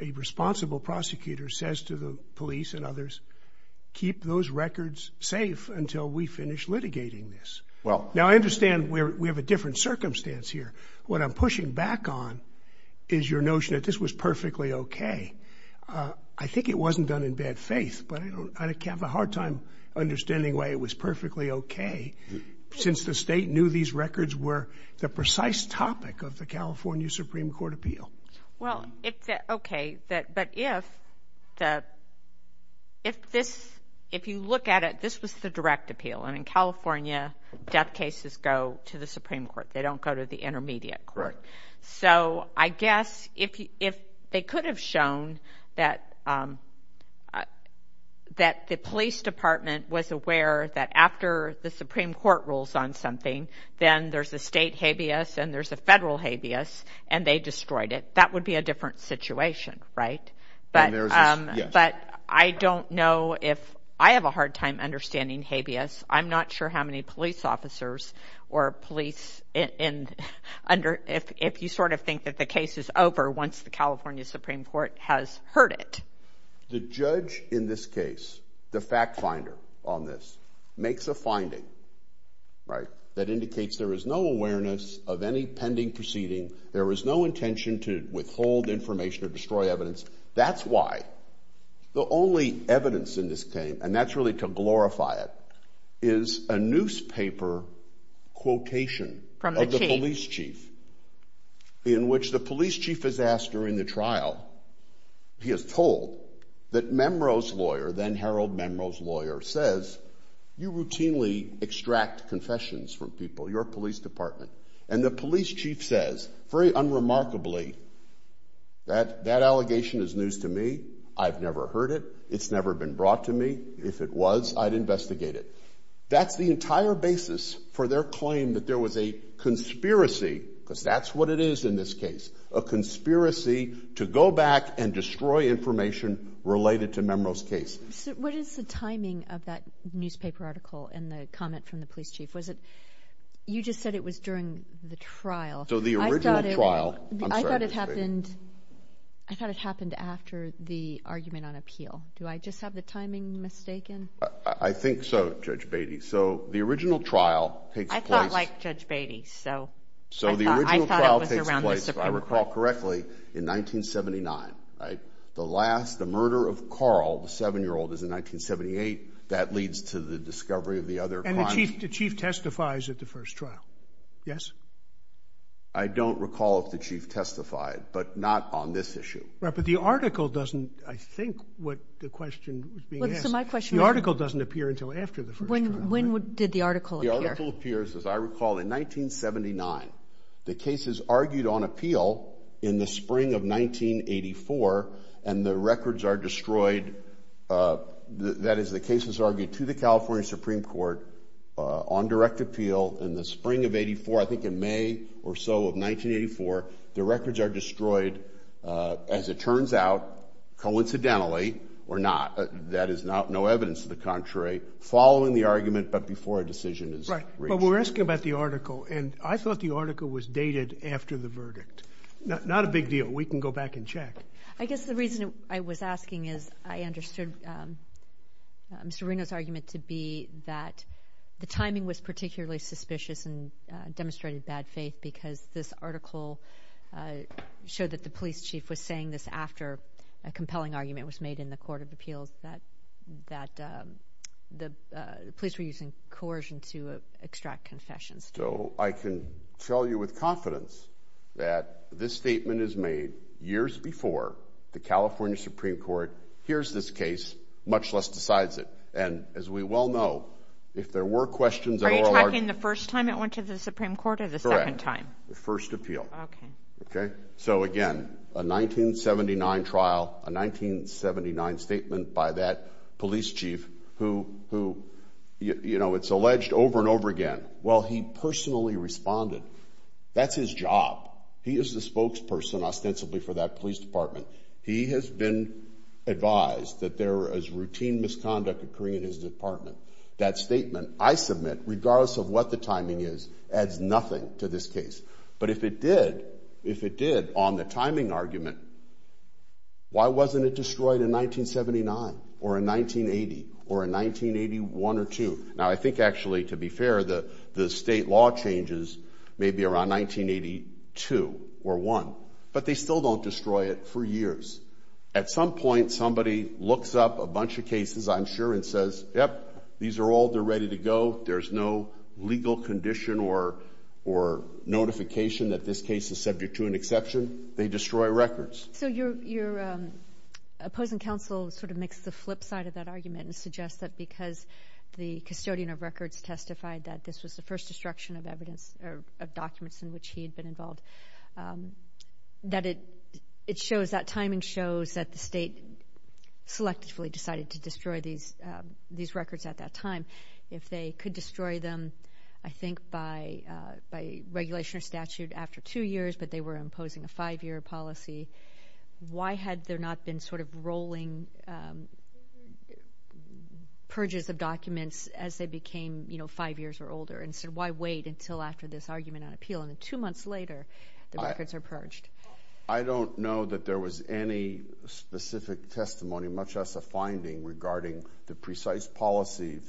a responsible prosecutor says to the police and others, keep those records safe until we finish litigating this. Now, I understand we have a different circumstance here. What I'm pushing back on is your notion that this was perfectly OK. I think it wasn't done in bad faith, but I have a hard time understanding why it was perfectly OK, since the state knew these records were the precise topic of the California Supreme Court appeal. Well, OK, but if... If you look at it, this was the direct appeal, and in California, death cases go to the Supreme Court. They don't go to the intermediate court. So I guess if they could have shown that... ..that the police department was aware that after the Supreme Court rules on something, then there's a state habeas and there's a federal habeas and they destroyed it, that would be a different situation, right? But I don't know if... I have a hard time understanding habeas. I'm not sure how many police officers or police... ..if you sort of think that the case is over once the California Supreme Court has heard it. The judge in this case, the fact-finder on this, makes a finding, right, that indicates there is no awareness of any pending proceeding, there is no intention to withhold information or destroy evidence. That's why the only evidence in this case, and that's really to glorify it, is a newspaper quotation... From the chief. ..of the police chief, in which the police chief is asked during the trial, he is told that Memro's lawyer, then-Harold Memro's lawyer, says, you routinely extract confessions from people, your police department, and the police chief says, very unremarkably, that that allegation is news to me, I've never heard it, it's never been brought to me, if it was, I'd investigate it. That's the entire basis for their claim that there was a conspiracy, because that's what it is in this case, a conspiracy to go back and destroy information related to Memro's case. What is the timing of that newspaper article and the comment from the police chief? You just said it was during the trial. So the original trial... I thought it happened after the argument on appeal. Do I just have the timing mistaken? I think so, Judge Beatty. So the original trial takes place... I thought like Judge Beatty, so... So the original trial takes place, if I recall correctly, in 1979, right? The last, the murder of Carl, the 7-year-old, is in 1978, that leads to the discovery of the other crime... And the chief testifies at the first trial, yes? I don't recall if the chief testified, but not on this issue. Right, but the article doesn't... I think what the question was being asked... The article doesn't appear until after the first trial. When did the article appear? The article appears, as I recall, in 1979. The case is argued on appeal in the spring of 1984, and the records are destroyed. That is, the case is argued to the California Supreme Court on direct appeal in the spring of 1984, I think in May or so of 1984. The records are destroyed, as it turns out, coincidentally or not, that is no evidence to the contrary, following the argument, but before a decision is reached. Right, but we're asking about the article, and I thought the article was dated after the verdict. Not a big deal, we can go back and check. I guess the reason I was asking is, I understood Mr. Reno's argument to be that the timing was particularly suspicious and demonstrated bad faith, because this article showed that the police chief was saying this after a compelling argument was made in the Court of Appeals that the police were using coercion to extract confessions. So I can tell you with confidence that this statement is made years before the California Supreme Court hears this case, much less decides it. And as we well know, if there were questions... Are you talking the first time it went to the Supreme Court or the second time? Correct, the first appeal. So again, a 1979 trial, a 1979 statement by that police chief who, you know, it's alleged over and over again. Well, he personally responded. That's his job. He is the spokesperson ostensibly for that police department. He has been advised that there is routine misconduct occurring in his department. That statement, I submit, regardless of what the timing is, adds nothing to this case. But if it did, if it did on the timing argument, why wasn't it destroyed in 1979 or in 1980 or in 1981 or two? Now, I think actually, to be fair, the state law changes maybe around 1982 or one, but they still don't destroy it for years. At some point, somebody looks up a bunch of cases, I'm sure, and says, yep, these are all ready to go. There's no legal condition or notification that this case is subject to an exception. They destroy records. So your opposing counsel sort of makes the flip side of that argument and suggests that because the custodian of records testified that this was the first destruction of documents in which he had been involved, that timing shows that the state selectively decided to destroy these records at that time. If they could destroy them, I think, by regulation or statute after two years, but they were imposing a five-year policy, why had there not been sort of rolling purges of documents as they became five years or older? And so why wait until after this argument on appeal, and then two months later the records are purged? I don't know that there was any specific testimony, much less a finding regarding the precise policies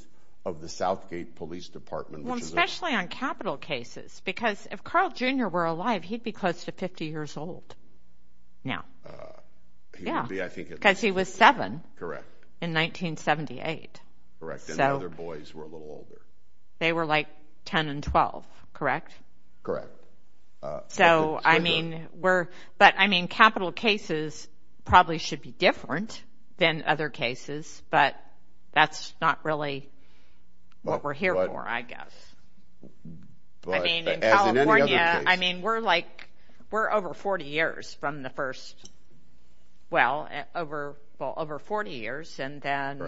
of the Southgate Police Department. Well, especially on capital cases, because if Carl Jr. were alive, he'd be close to 50 years old now. Yeah. Because he was seven in 1978. Correct. And the other boys were a little older. They were like 10 and 12, correct? Correct. So, I mean, capital cases probably should be different than other cases, but that's not really what we're here for, I guess. I mean, in California, we're over 40 years from the first – well, over 40 years, and then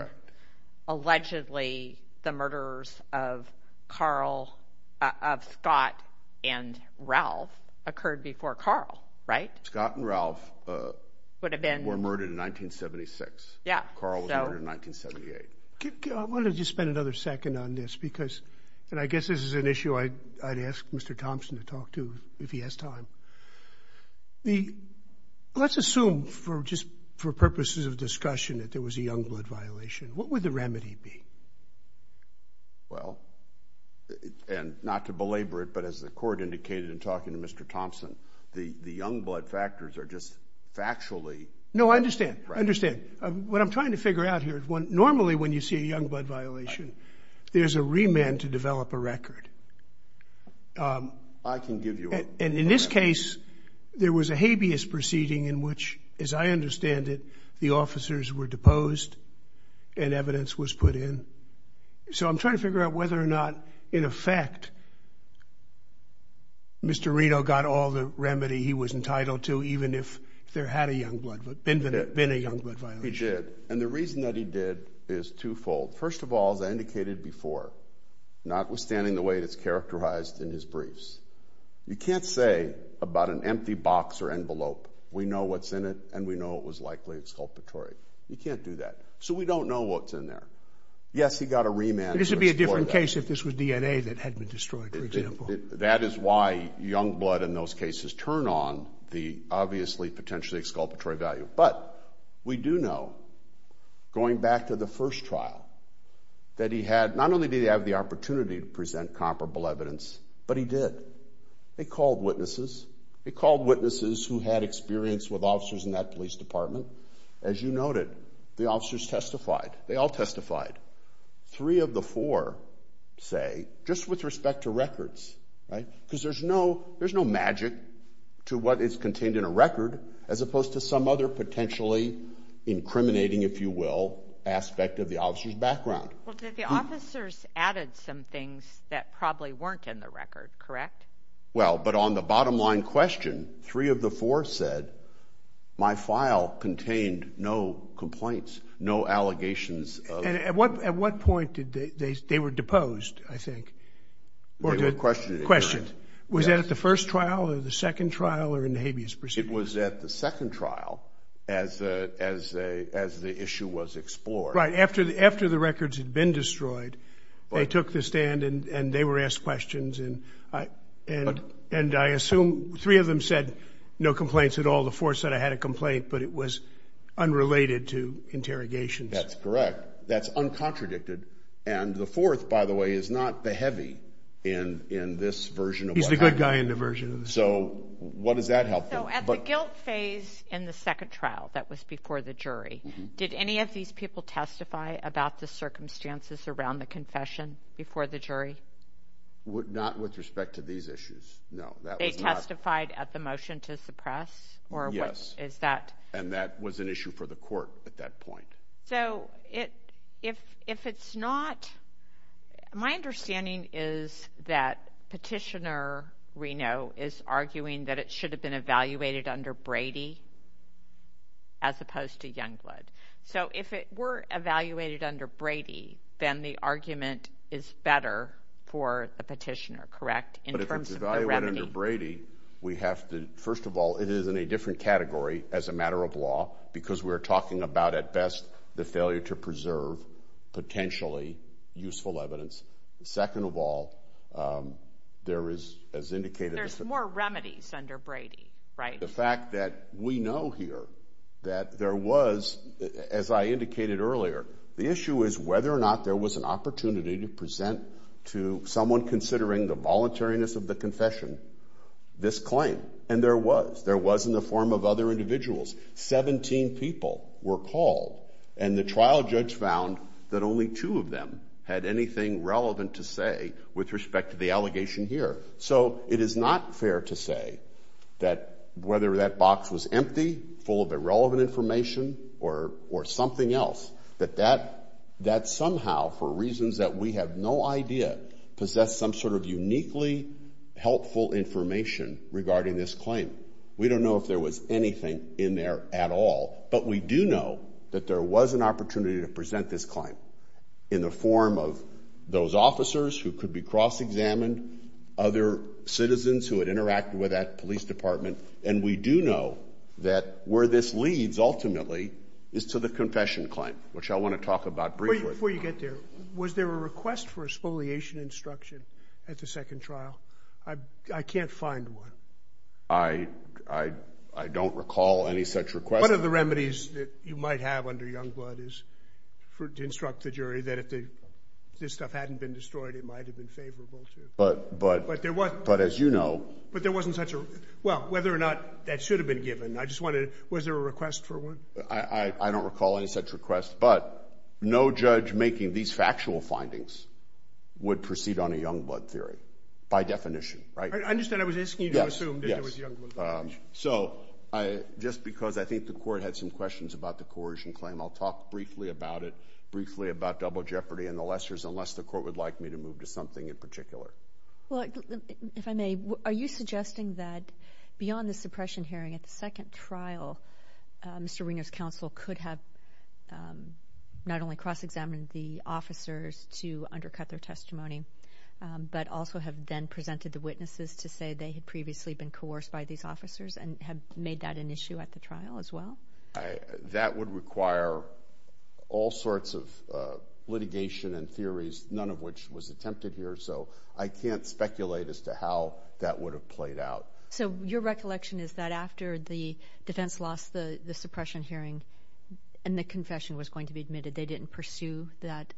allegedly the murders of Carl – Ralph occurred before Carl, right? Scott and Ralph were murdered in 1976. Carl was murdered in 1978. I want to just spend another second on this, because – and I guess this is an issue I'd ask Mr. Thompson to talk to if he has time. Let's assume, for purposes of discussion, that there was a young blood violation. What would the remedy be? Well, and not to belabor it, but as the court indicated in talking to Mr. Thompson, the young blood factors are just factually – No, I understand. I understand. What I'm trying to figure out here is normally when you see a young blood violation, there's a remand to develop a record. I can give you one. And in this case, there was a habeas proceeding in which, as I understand it, the officers were deposed and evidence was put in. So I'm trying to figure out whether or not, in effect, Mr. Reno got all the remedy he was entitled to, even if there had been a young blood violation. He did. And the reason that he did is twofold. First of all, as I indicated before, notwithstanding the way it's characterized in his briefs, you can't say about an empty box or envelope, we know what's in it and we know it was likely exculpatory. You can't do that. So we don't know what's in there. Yes, he got a remand. But this would be a different case if this was DNA that had been destroyed, for example. That is why young blood in those cases turn on the obviously potentially exculpatory value. But we do know, going back to the first trial, that he had – not only did he have the opportunity to present comparable evidence, but he did. They called witnesses. They called witnesses who had experience with officers in that police department. As you noted, the officers testified. They all testified. Three of the four, say, just with respect to records, right, because there's no magic to what is contained in a record as opposed to some other potentially incriminating, if you will, aspect of the officer's background. Well, the officers added some things that probably weren't in the record, correct? Well, but on the bottom-line question, three of the four said, my file contained no complaints, no allegations. And at what point did they – they were deposed, I think. There's no question. Question. Was that at the first trial or the second trial or in the habeas procedure? It was at the second trial as the issue was explored. Right, after the records had been destroyed, they took the stand and they were asked questions. And I assume three of them said no complaints at all. The four said I had a complaint, but it was unrelated to interrogations. That's correct. That's uncontradicted. And the fourth, by the way, is not the heavy in this version of what happened. He's the good guy in the version. So what does that help them? So at the guilt phase in the second trial, that was before the jury, did any of these people testify about the circumstances around the confession before the jury? Not with respect to these issues, no. They testified at the motion to suppress? Yes. And that was an issue for the court at that point. So if it's not – my understanding is that Petitioner Reno is arguing that it should have been evaluated under Brady as opposed to Youngblood. So if it were evaluated under Brady, then the argument is better for the petitioner, correct, in terms of the remedy? But if it's evaluated under Brady, we have to – first of all, it is in a different category as a matter of law because we're talking about, at best, the failure to preserve potentially useful evidence. Second of all, there is, as indicated – There's more remedies under Brady, right? But the fact that we know here that there was, as I indicated earlier, the issue is whether or not there was an opportunity to present to someone considering the voluntariness of the confession this claim. And there was. There was in the form of other individuals. Seventeen people were called, and the trial judge found that only two of them had anything relevant to say with respect to the allegation here. So it is not fair to say that whether that box was empty, full of irrelevant information, or something else, that that somehow, for reasons that we have no idea, possessed some sort of uniquely helpful information regarding this claim. We don't know if there was anything in there at all. But we do know that there was an opportunity to present this claim in the form of those officers who could be cross-examined, other citizens who had interacted with that police department. And we do know that where this leads, ultimately, is to the confession claim, which I want to talk about briefly. Before you get there, was there a request for a spoliation instruction at the second trial? I can't find one. I don't recall any such request. One of the remedies that you might have under Youngblood is to instruct the jury that if this stuff hadn't been destroyed, it might have been favorable. But as you know— But there wasn't such a—well, whether or not that should have been given. I just wanted to—was there a request for one? I don't recall any such request. But no judge making these factual findings would proceed on a Youngblood theory, by definition. I understand. I was asking you to assume that there was Youngblood. So just because I think the court had some questions about the coercion claim, I'll talk briefly about it, briefly about double jeopardy and the lessors, unless the court would like me to move to something in particular. Well, if I may, are you suggesting that beyond the suppression hearing at the second trial, Mr. Winger's counsel could have not only cross-examined the officers to undercut their testimony, but also have then presented the witnesses to say that they had previously been coerced by these officers and had made that an issue at the trial as well? That would require all sorts of litigation and theories, none of which was attempted here, so I can't speculate as to how that would have played out. So your recollection is that after the defense lost the suppression hearing and the confession was going to be admitted, they didn't pursue that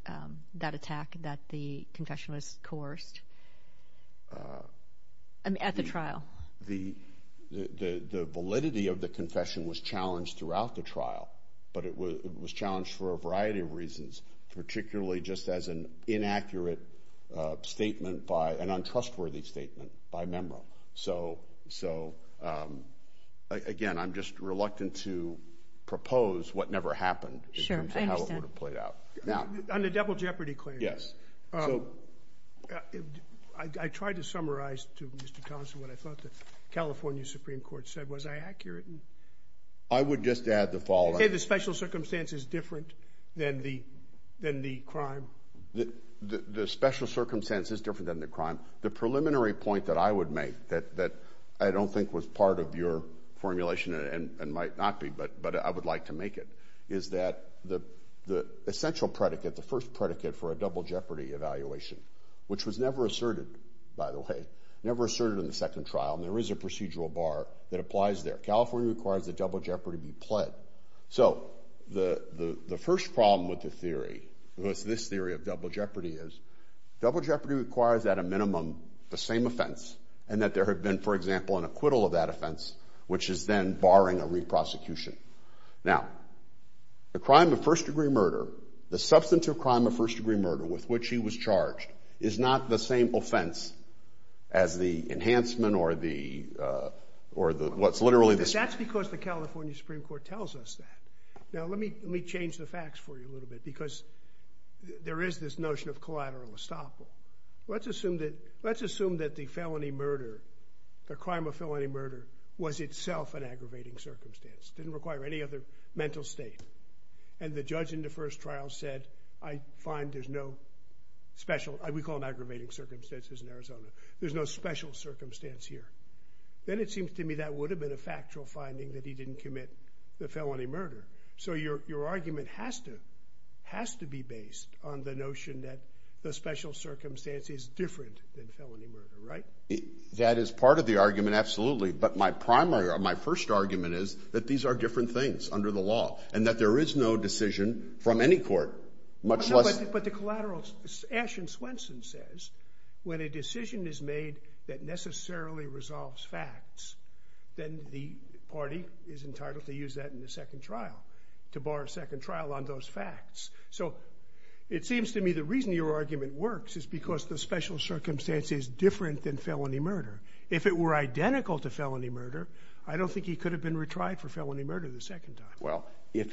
attack that the confession was coerced? At the trial? The validity of the confession was challenged throughout the trial, but it was challenged for a variety of reasons, particularly just as an inaccurate statement by an untrustworthy statement by memo. So, again, I'm just reluctant to propose what never happened. Sure, I understand. On the double jeopardy claim, I tried to summarize to Mr. Thompson what I thought the California Supreme Court said. Was I accurate? I would just add the following. Okay, the special circumstance is different than the crime. The special circumstance is different than the crime. The preliminary point that I would make that I don't think was part of your formulation and might not be, but I would like to make it, is that the essential predicate, the first predicate for a double jeopardy evaluation, which was never asserted, by the way, never asserted in the second trial, and there is a procedural bar that applies there. California requires that double jeopardy be pled. So the first problem with the theory, with this theory of double jeopardy, is double jeopardy requires at a minimum the same offense and that there had been, for example, an acquittal of that offense, which is then barring a re-prosecution. Now, the crime of first-degree murder, the substance of crime of first-degree murder with which he was charged, is not the same offense as the enhancement or what's literally the same. That's because the California Supreme Court tells us that. Now, let me change the facts for you a little bit because there is this notion of collateral estoppel. Let's assume that the felony murder, the crime of felony murder, was itself an aggravating circumstance. It didn't require any other mental state. And the judge in the first trial said, I find there's no special, we call them aggravating circumstances in Arizona, there's no special circumstance here. Then it seems to me that would have been a factual finding that he didn't commit the felony murder. So your argument has to be based on the notion that the special circumstance is different than felony murder, right? That is part of the argument, absolutely. But my primary, my first argument is that these are different things under the law and that there is no decision from any court. But the collateral, Ashton Swenson says, when a decision is made that necessarily resolves facts, then the party is entitled to use that in the second trial, to bar a second trial on those facts. So it seems to me the reason your argument works is because the special circumstance is different than felony murder. If it were identical to felony murder, I don't think he could have been retried for felony murder the second time. Well, if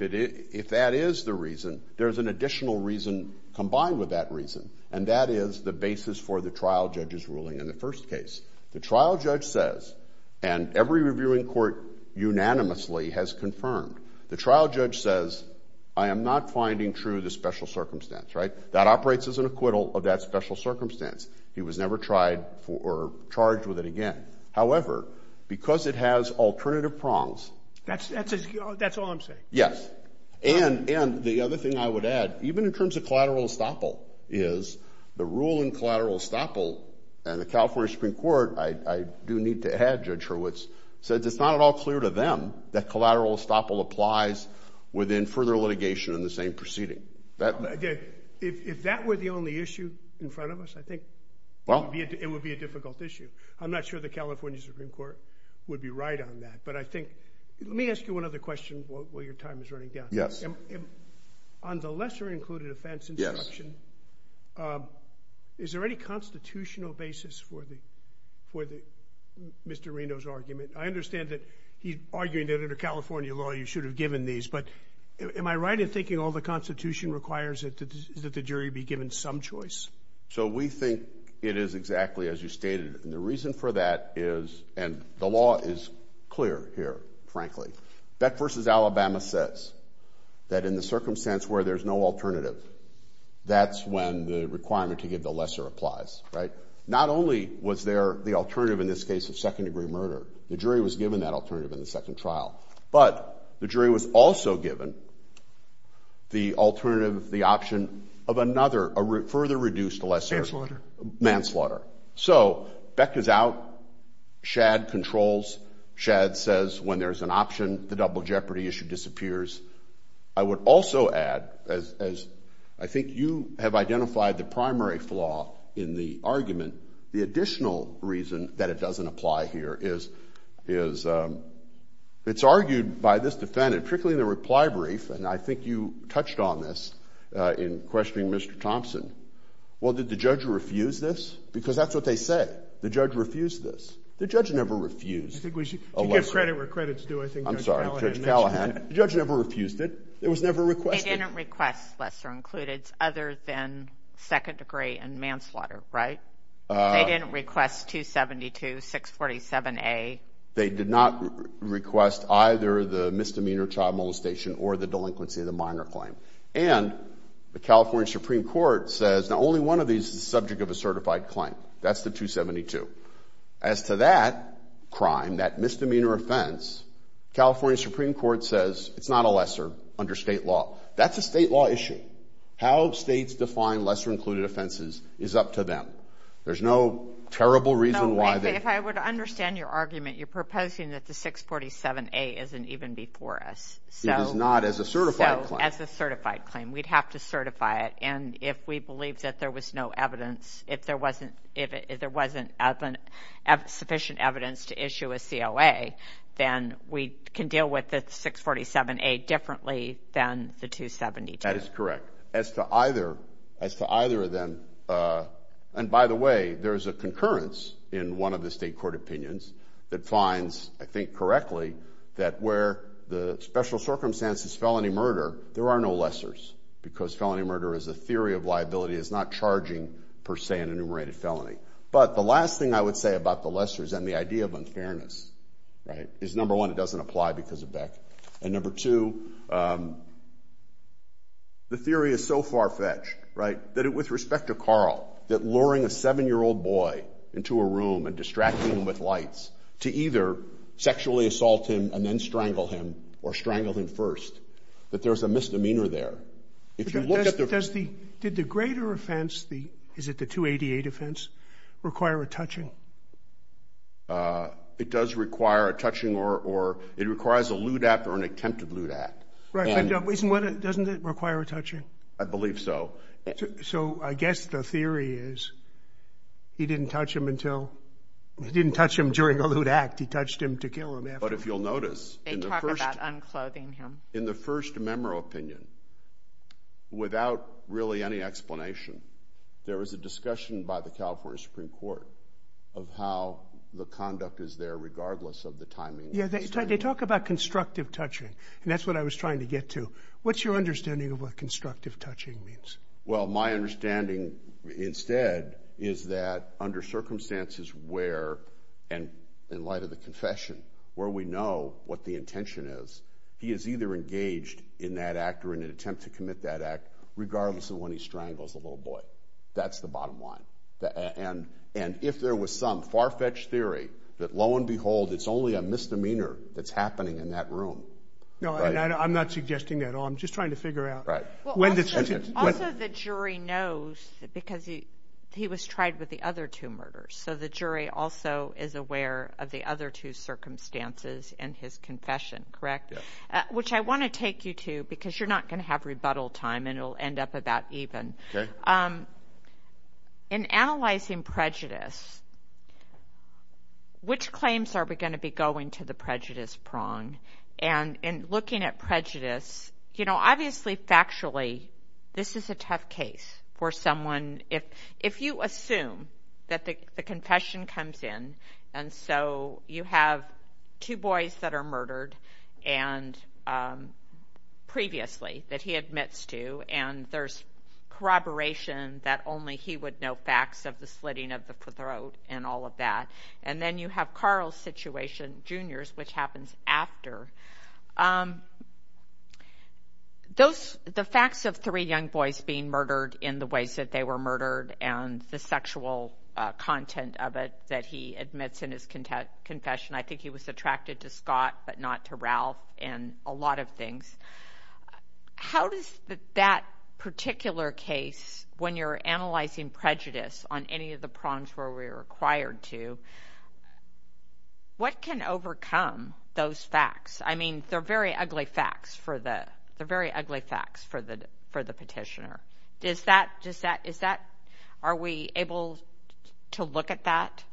that is the reason, there's an additional reason combined with that reason, and that is the basis for the trial judge's ruling in the first case. The trial judge says, and every reviewing court unanimously has confirmed, the trial judge says, I am not finding true the special circumstance, right? That operates as an acquittal of that special circumstance. He was never tried or charged with it again. However, because it has alternative prongs... That's all I'm saying. Yes. And the other thing I would add, even in terms of collateral estoppel, is the rule in collateral estoppel, and the California Supreme Court, I do need to add Judge Hurwitz, said it's not at all clear to them that collateral estoppel applies within further litigation in the same proceeding. If that were the only issue in front of us, I think it would be a difficult issue. I'm not sure the California Supreme Court would be right on that, but I think... Let me ask you another question while your time is running down. Yes. On the lesser-included offense instruction, is there any constitutional basis for Mr. Reno's argument? I understand that he's arguing that under California law you should have given these, but am I right in thinking all the Constitution requires that the jury be given some choice? So we think it is exactly as you stated, and the reason for that is, and the law is clear here, frankly, Beck v. Alabama says that in the circumstance where there's no alternative, that's when the requirement to give the lesser applies, right? Not only was there the alternative in this case of second-degree murder, the jury was given that alternative in the second trial, but the jury was also given the alternative, the option of another, a further reduced lesser... Manslaughter. Manslaughter. So Beck is out, Schad controls, Schad says when there's an option, the double jeopardy issue disappears. I would also add, as I think you have identified the primary flaw in the argument, the additional reason that it doesn't apply here is it's argued by this defendant, trickling the reply brief, and I think you touched on this in questioning Mr. Thompson. Well, did the judge refuse this? Because that's what they said, the judge refused this. The judge never refused a lesser. I think we should give credit where credit's due. I'm sorry, Judge Callahan. The judge never refused it. It was never requested. They didn't request lesser included other than second-degree and manslaughter, right? They didn't request 272-647-A. They did not request either the misdemeanor trial molestation or the delinquency of the minor claim. And the California Supreme Court says that only one of these is the subject of a certified claim. That's the 272. As to that crime, that misdemeanor offense, California Supreme Court says it's not a lesser under state law. That's a state law issue. How states define lesser included offenses is up to them. There's no terrible reason why they... If I were to understand your argument, you're proposing that the 647-A isn't even before us. It is not as a certified claim. As a certified claim. We'd have to certify it. And if we believe that there was no evidence, if there wasn't sufficient evidence to issue a COA, then we can deal with the 647-A differently than the 272. That is correct. As to either of them... And by the way, there's a concurrence in one of the state court opinions that finds, I think correctly, that where the special circumstance is felony murder, there are no lessers. Because felony murder is a theory of liability. It's not charging per se an enumerated felony. But the last thing I would say about the lessers and the idea of unfairness is, number one, it doesn't apply because of that. And number two, the theory is so far-fetched, right, that with respect to Carl, that luring a seven-year-old boy into a room and distracting him with lights to either sexually assault him and then strangle him or strangle him first, that there's a misdemeanor there. If you look at the... Did the greater offense, is it the 288 offense, require a touching? It does require a touching or... It requires a lewd act or an attempted lewd act. Doesn't it require a touching? I believe so. So I guess the theory is he didn't touch him until... He didn't touch him during a lewd act. He touched him to kill him. But if you'll notice... They talk about unclothing him. In the first memo opinion, without really any explanation, there was a discussion by the California Supreme Court of how the conduct is there regardless of the timing. Yeah, they talk about constructive touching, and that's what I was trying to get to. What's your understanding of what constructive touching means? Well, my understanding instead is that under circumstances where, and in light of the confession, where we know what the intention is, he is either engaged in that act or in an attempt to commit that act regardless of when he strangles the little boy. That's the bottom line. And if there was some far-fetched theory that, lo and behold, it's only a misdemeanor that's happening in that room... No, I'm not suggesting that at all. I'm just trying to figure out... Also, the jury knows because he was tried with the other two murders, so the jury also is aware of the other two circumstances in his confession, correct? Yes. Which I want to take you to because you're not going to have rebuttal time and it'll end up about even. Okay. In analyzing prejudice, which claims are we going to be going to the prejudice prong? And in looking at prejudice, you know, obviously, factually, this is a tough case for someone. If you assume that the confession comes in and so you have two boys that are murdered and previously that he admits to and there's corroboration that only he would know facts of the slitting of the throat and all of that, and then you have Carl's situation, Junior's, which happens after, the facts of three young boys being murdered in the ways that they were murdered and the sexual content of it that he admits in his confession, I think he was attracted to Scott but not to Ralph and a lot of things. How does that particular case, when you're analyzing prejudice on any of the prongs where we're required to, what can overcome those facts? I mean, they're very ugly facts for the petitioner. Are we able to look at that?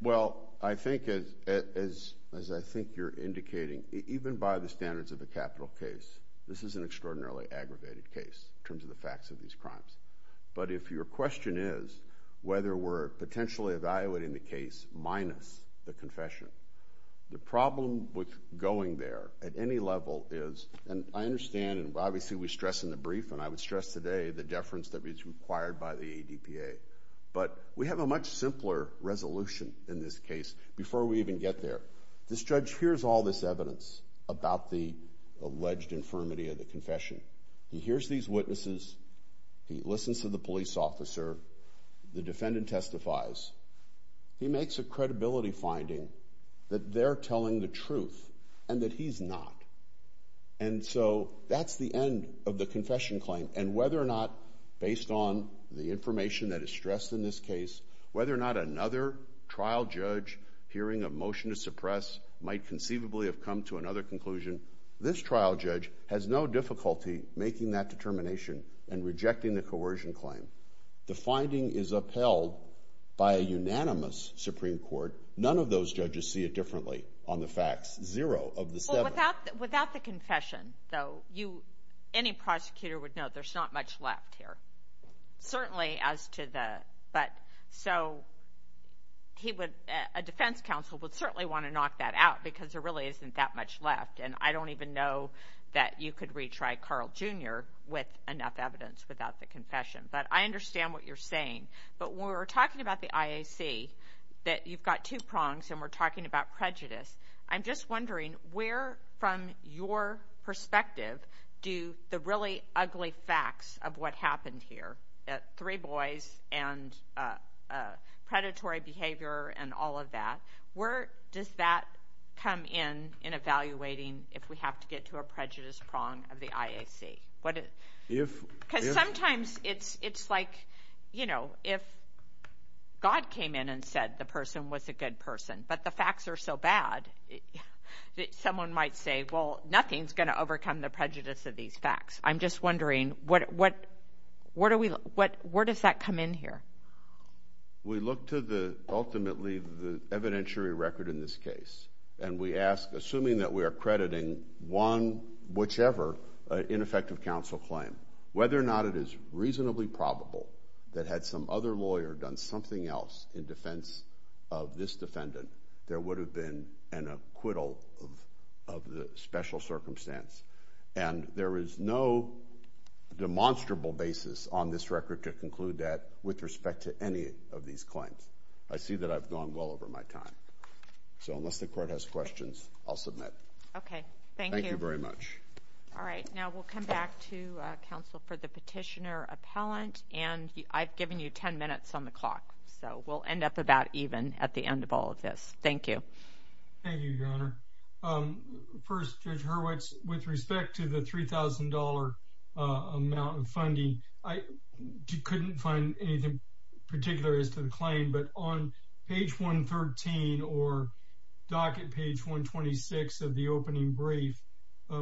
Well, I think, as I think you're indicating, even by the standards of the capital case, this is an extraordinarily aggravated case in terms of the facts of these crimes. But if your question is whether we're potentially evaluating the case minus the confession, the problem with going there at any level is, and I understand and obviously we stress in the brief, and I would stress today, the deference that is required by the ADPA, but we have a much simpler resolution in this case before we even get there. The judge hears all this evidence about the alleged infirmity of the confession. He hears these witnesses. He listens to the police officer. The defendant testifies. He makes a credibility finding that they're telling the truth and that he's not. And so that's the end of the confession claim, and whether or not, based on the information that is stressed in this case, whether or not another trial judge hearing a motion to suppress might conceivably have come to another conclusion, this trial judge has no difficulty making that determination and rejecting the coercion claim. The finding is upheld by a unanimous Supreme Court. None of those judges see it differently on the facts. Zero of the seven. Without the confession, though, any prosecutor would know there's not much left here. Certainly as to the... So a defense counsel would certainly want to knock that out because there really isn't that much left, and I don't even know that you could retry Carl Jr. with enough evidence without the confession. But I understand what you're saying. But when we're talking about the IAC, that you've got two prongs, and we're talking about prejudice, I'm just wondering where, from your perspective, do the really ugly facts of what happened here, that three boys and predatory behavior and all of that, where does that come in in evaluating if we have to get to a prejudice prong of the IAC? Because sometimes it's like, you know, if God came in and said the person was a good person but the facts are so bad, someone might say, well, nothing's going to overcome the prejudice of these facts. I'm just wondering, where does that come in here? We look to ultimately the evidentiary record in this case, and we ask, assuming that we are crediting one, whichever ineffective counsel claim, whether or not it is reasonably probable that had some other lawyer done something else in defense of this defendant, there would have been an acquittal of the special circumstance. And there is no demonstrable basis on this record to conclude that with respect to any of these claims. I see that I've gone well over my time. So unless the Court has questions, I'll submit. Okay, thank you. Thank you very much. All right, now we'll come back to counsel for the petitioner appellant. And I've given you 10 minutes on the clock, so we'll end up about even at the end of all of this. Thank you. Thank you, Your Honor. First, Judge Hurwitz, with respect to the $3,000 amount of funding, I couldn't find anything particular as to the claim, but on page 113 or docket page 126 of the opening brief,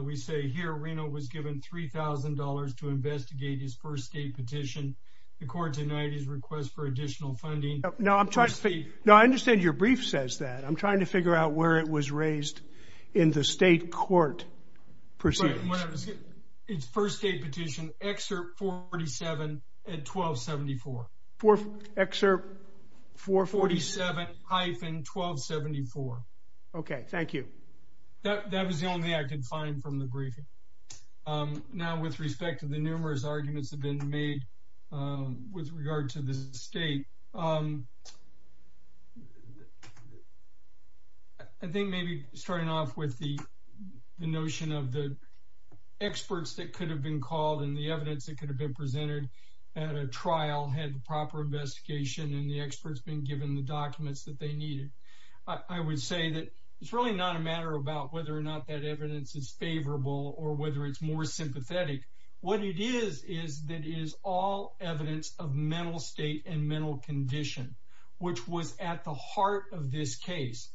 we say here Reno was given $3,000 to investigate his first state petition. The court denied his request for additional funding. Now, I understand your brief says that. I'm trying to figure out where it was raised in the state court procedure. His first state petition, Excerpt 447 at 1274. Excerpt 447? 447-1274. Okay, thank you. That was the only I could find from the briefing. Now, with respect to the numerous arguments that have been made with regard to the state, I think maybe starting off with the notion of the experts that could have been called and the evidence that could have been presented at a trial had proper investigation and the experts been given the documents that they needed. I would say that it's really not a matter about whether or not that evidence is favorable or whether it's more sympathetic. What it is, is that it is all evidence of mental state and mental condition, which was at the heart of this case.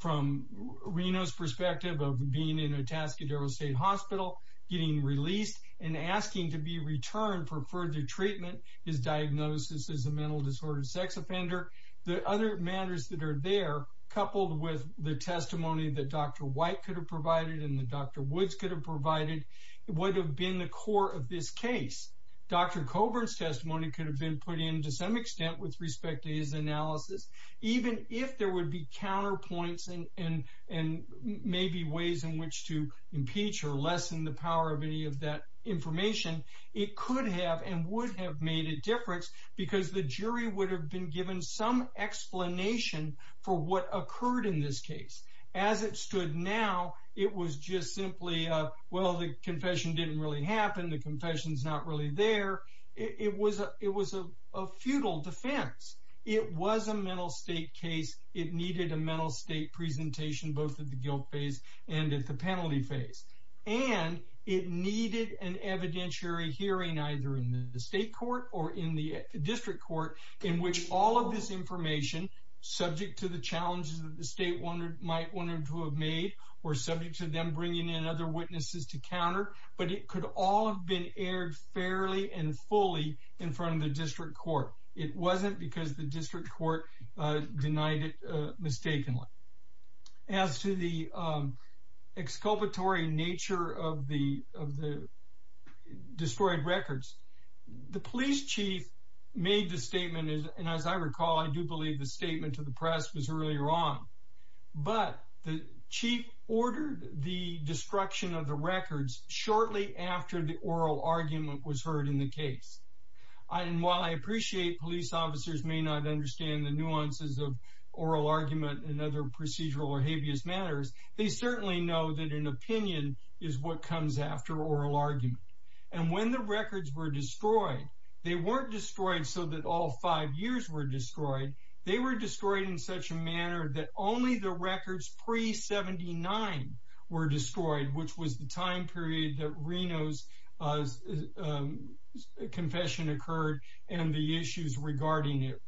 From Reno's perspective of being in a Tascadero State Hospital, getting released, and asking to be returned for further treatment, his diagnosis is a mental disorder sex offender. The other matters that are there, coupled with the testimony that Dr. White could have provided and that Dr. Woods could have provided, would have been the core of this case. Dr. Coburn's testimony could have been put in to some extent with respect to his analysis. Even if there would be counterpoints and maybe ways in which to impeach or lessen the power of any of that information, it could have and would have made a difference because the jury would have been given some explanation for what occurred in this case. As it stood now, it was just simply, well, the confession didn't really happen. The confession's not really there. It was a futile defense. It was a mental state case. It needed a mental state presentation, both at the guilt phase and at the penalty phase. And it needed an evidentiary hearing, either in the state court or in the district court, in which all of this information, subject to the challenges that the state might want them to have made or subject to them bringing in other witnesses to counter, but it could all have been aired fairly and fully in front of the district court. It wasn't because the district court denied it mistakenly. As to the exculpatory nature of the destroyed records, the police chief made the statement. And as I recall, I do believe the statement to the press was really wrong, but the chief ordered the destruction of the records shortly after the oral argument was heard in the case. And while I appreciate police officers may not understand the nuances of oral argument and other procedural or habeas matters, they certainly know that an opinion is what comes after oral argument. And when the records were destroyed, they weren't destroyed so that all five years were destroyed. They were destroyed in such a manner that only the records pre 79 were destroyed, which was the time period that Reno's confession occurred. And the issues regarding it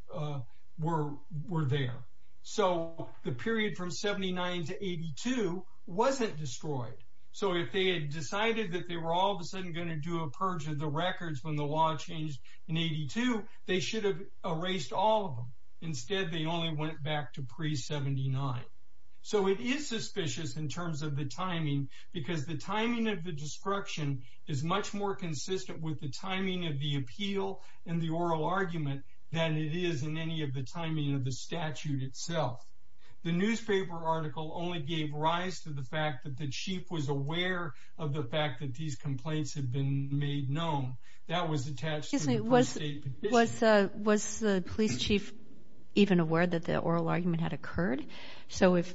were there. So the period from 79 to 82 wasn't destroyed. So if they had decided that they were all of a sudden going to do a purge of the records when the law changed in 82, they should have erased all of them. Instead, they only went back to pre 79. So it is suspicious in terms of the timing, because the timing of the destruction is much more consistent with the timing of the appeal and the oral argument than it is in any of the timing of the statute itself. The newspaper article only gave rise to the fact that the chief was aware of the fact that these complaints had been made known. That was attached to the state. Was the police chief even aware that the oral argument had occurred? So if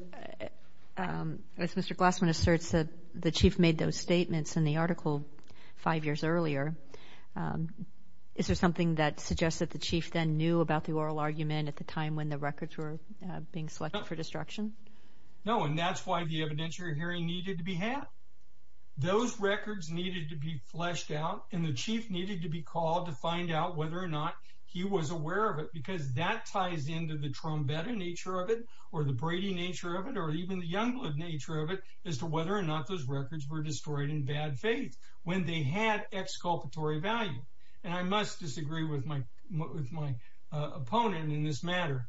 Mr. Glassman asserts that the chief made those statements in the article five years earlier, is there something that suggests that the chief then knew about the oral argument at the time when the records were being selected for destruction? No, and that's why the evidentiary hearing needed to be had. Those records needed to be fleshed out, and the chief needed to be called to find out whether or not he was aware of it, because that ties into the trombetta nature of it, or the Brady nature of it, or even the Youngblood nature of it as to whether or not those records were destroyed in bad faith when they had exculpatory value. And I must disagree with my opponent in this matter.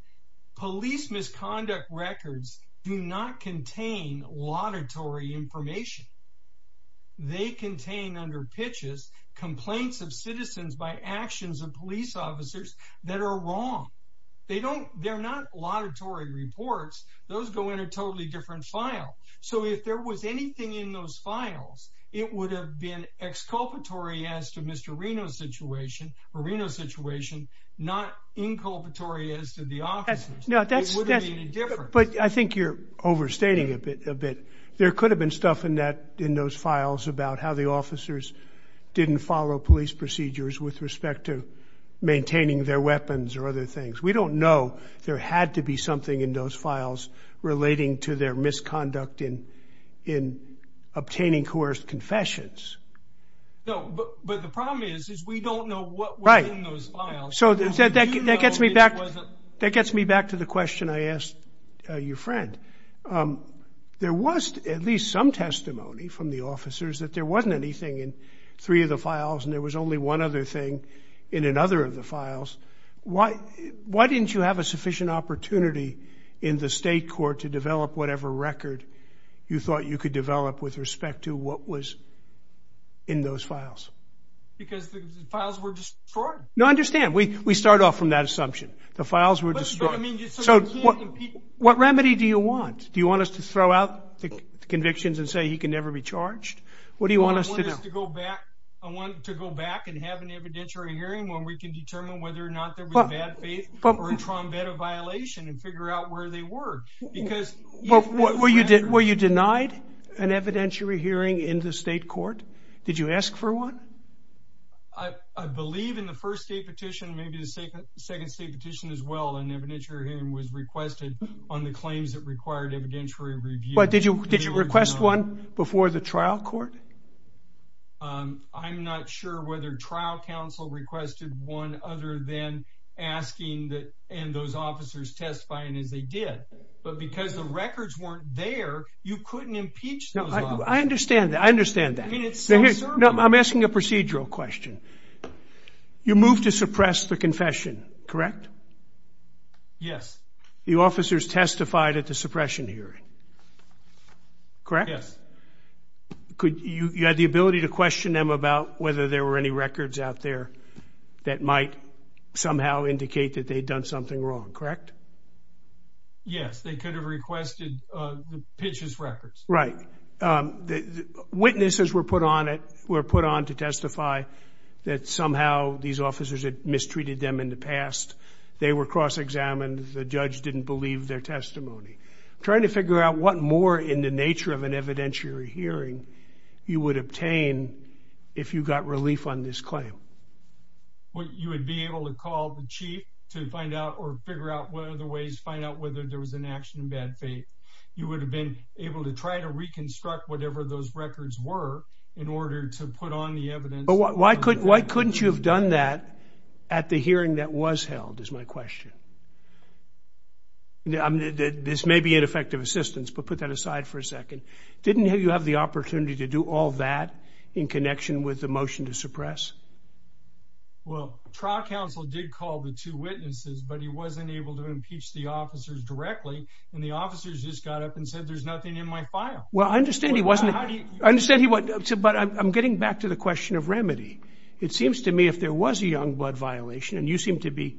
Police misconduct records do not contain laudatory information. They contain under pitches complaints of citizens by actions of police officers that are wrong. They're not laudatory reports. Those go in a totally different file. So if there was anything in those files, it would have been exculpatory as to Mr. Reno's situation, not inculpatory as to the officers. It wouldn't be any different. But I think you're overstating it a bit. There could have been stuff in those files about how the officers didn't follow police procedures with respect to maintaining their weapons or other things. We don't know. There had to be something in those files relating to their misconduct in obtaining coerced confessions. But the problem is, is we don't know what was in those files. So that gets me back to the question I asked your friend. There was at least some testimony from the officers that there wasn't anything in three of the files, and there was only one other thing in another of the files. Why didn't you have a sufficient opportunity in the state court to develop whatever record you thought you could develop with respect to what was in those files? Because the files were destroyed. No, I understand. We start off from that assumption. The files were destroyed. So what remedy do you want? Do you want us to throw out the convictions and say he can never be charged? What do you want us to do? I want us to go back and have an evidentiary hearing where we can determine whether or not there was a bad faith or a trombedo violation and figure out where they were. Were you denied an evidentiary hearing in the state court? Did you ask for one? I believe in the first state petition, maybe the second state petition as well, an evidentiary hearing was requested on the claims that required evidentiary review. But did you request one before the trial court? I'm not sure whether trial counsel requested one other than asking and those are two different things. are two different things. But because the records weren't there, you couldn't impeach them. I understand that. I understand that. I'm asking a procedural question. You moved to suppress the confession, correct? Yes. The officers testified at the suppression hearing, correct? Yes. You had the ability to question them about whether there were any records out there that might somehow indicate that they'd done something wrong, correct? Yes. They could have requested the pitches records. Right. Witnesses were put on it, were put on to testify that somehow these officers had mistreated them in the past. They were cross-examined. The judge didn't believe their testimony. Trying to figure out what more in the nature of an evidentiary hearing you would obtain if you got relief on this claim? You would be able to call the chief to find out or figure out what are the ways to find out whether there was an action in bad faith. You would have been able to try to reconstruct whatever those records were in order to put on the evidence. But why couldn't you have done that at the hearing that was held is my question. This may be ineffective assistance, but put that aside for a second. Didn't you have the opportunity to do all that in connection with the motion to suppress? Well, trial counsel did call the two witnesses, but he wasn't able to impeach the officers directly. And the officers just got up and said, there's nothing in my file. Well, I understand he wasn't. But I'm getting back to the question of remedy. It seems to me if there was a young blood violation, and you seem to be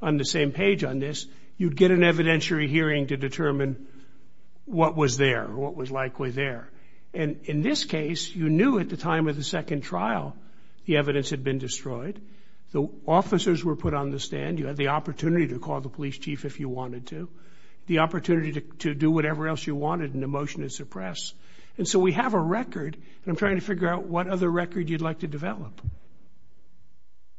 on the same page on this, you'd get an evidentiary hearing to determine what was there, what was likely there. And in this case, you knew at the time of the second trial, the evidence had been destroyed. The officers were put on the stand. You had the opportunity to call the police chief if you wanted to. The opportunity to do whatever else you wanted in the motion to suppress. And so we have a record, and I'm trying to figure out what other record you'd like to develop.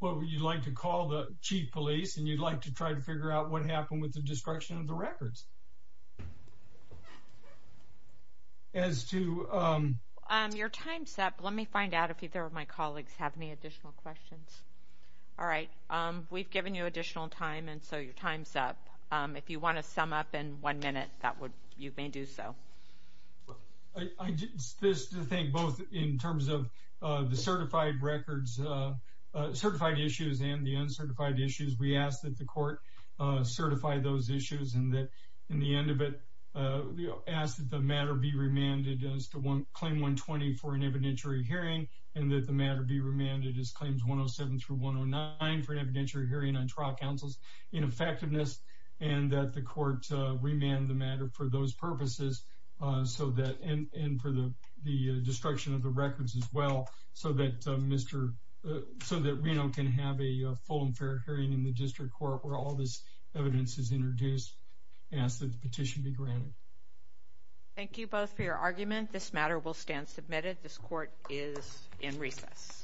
Well, you'd like to call the chief police, and you'd like to try to figure out what happened with the destruction of the records. As to – Your time's up. Let me find out if either of my colleagues have any additional questions. All right. We've given you additional time, and so your time's up. If you want to sum up in one minute, you may do so. I just think both in terms of the certified records, certified issues and the uncertified issues, we ask that the court certify those issues and that in the end of it, ask that the matter be remanded as claim 120 for an evidentiary hearing and that the matter be remanded as claims 107 through 109 for an evidentiary hearing on trial counsel's ineffectiveness and that the court remand the matter for those purposes and for the destruction of the records as well so that Reno can have a full and fair hearing in the district court where all this evidence is introduced and the petition be granted. Thank you both for your argument. This matter will stand submitted. This court is in recess.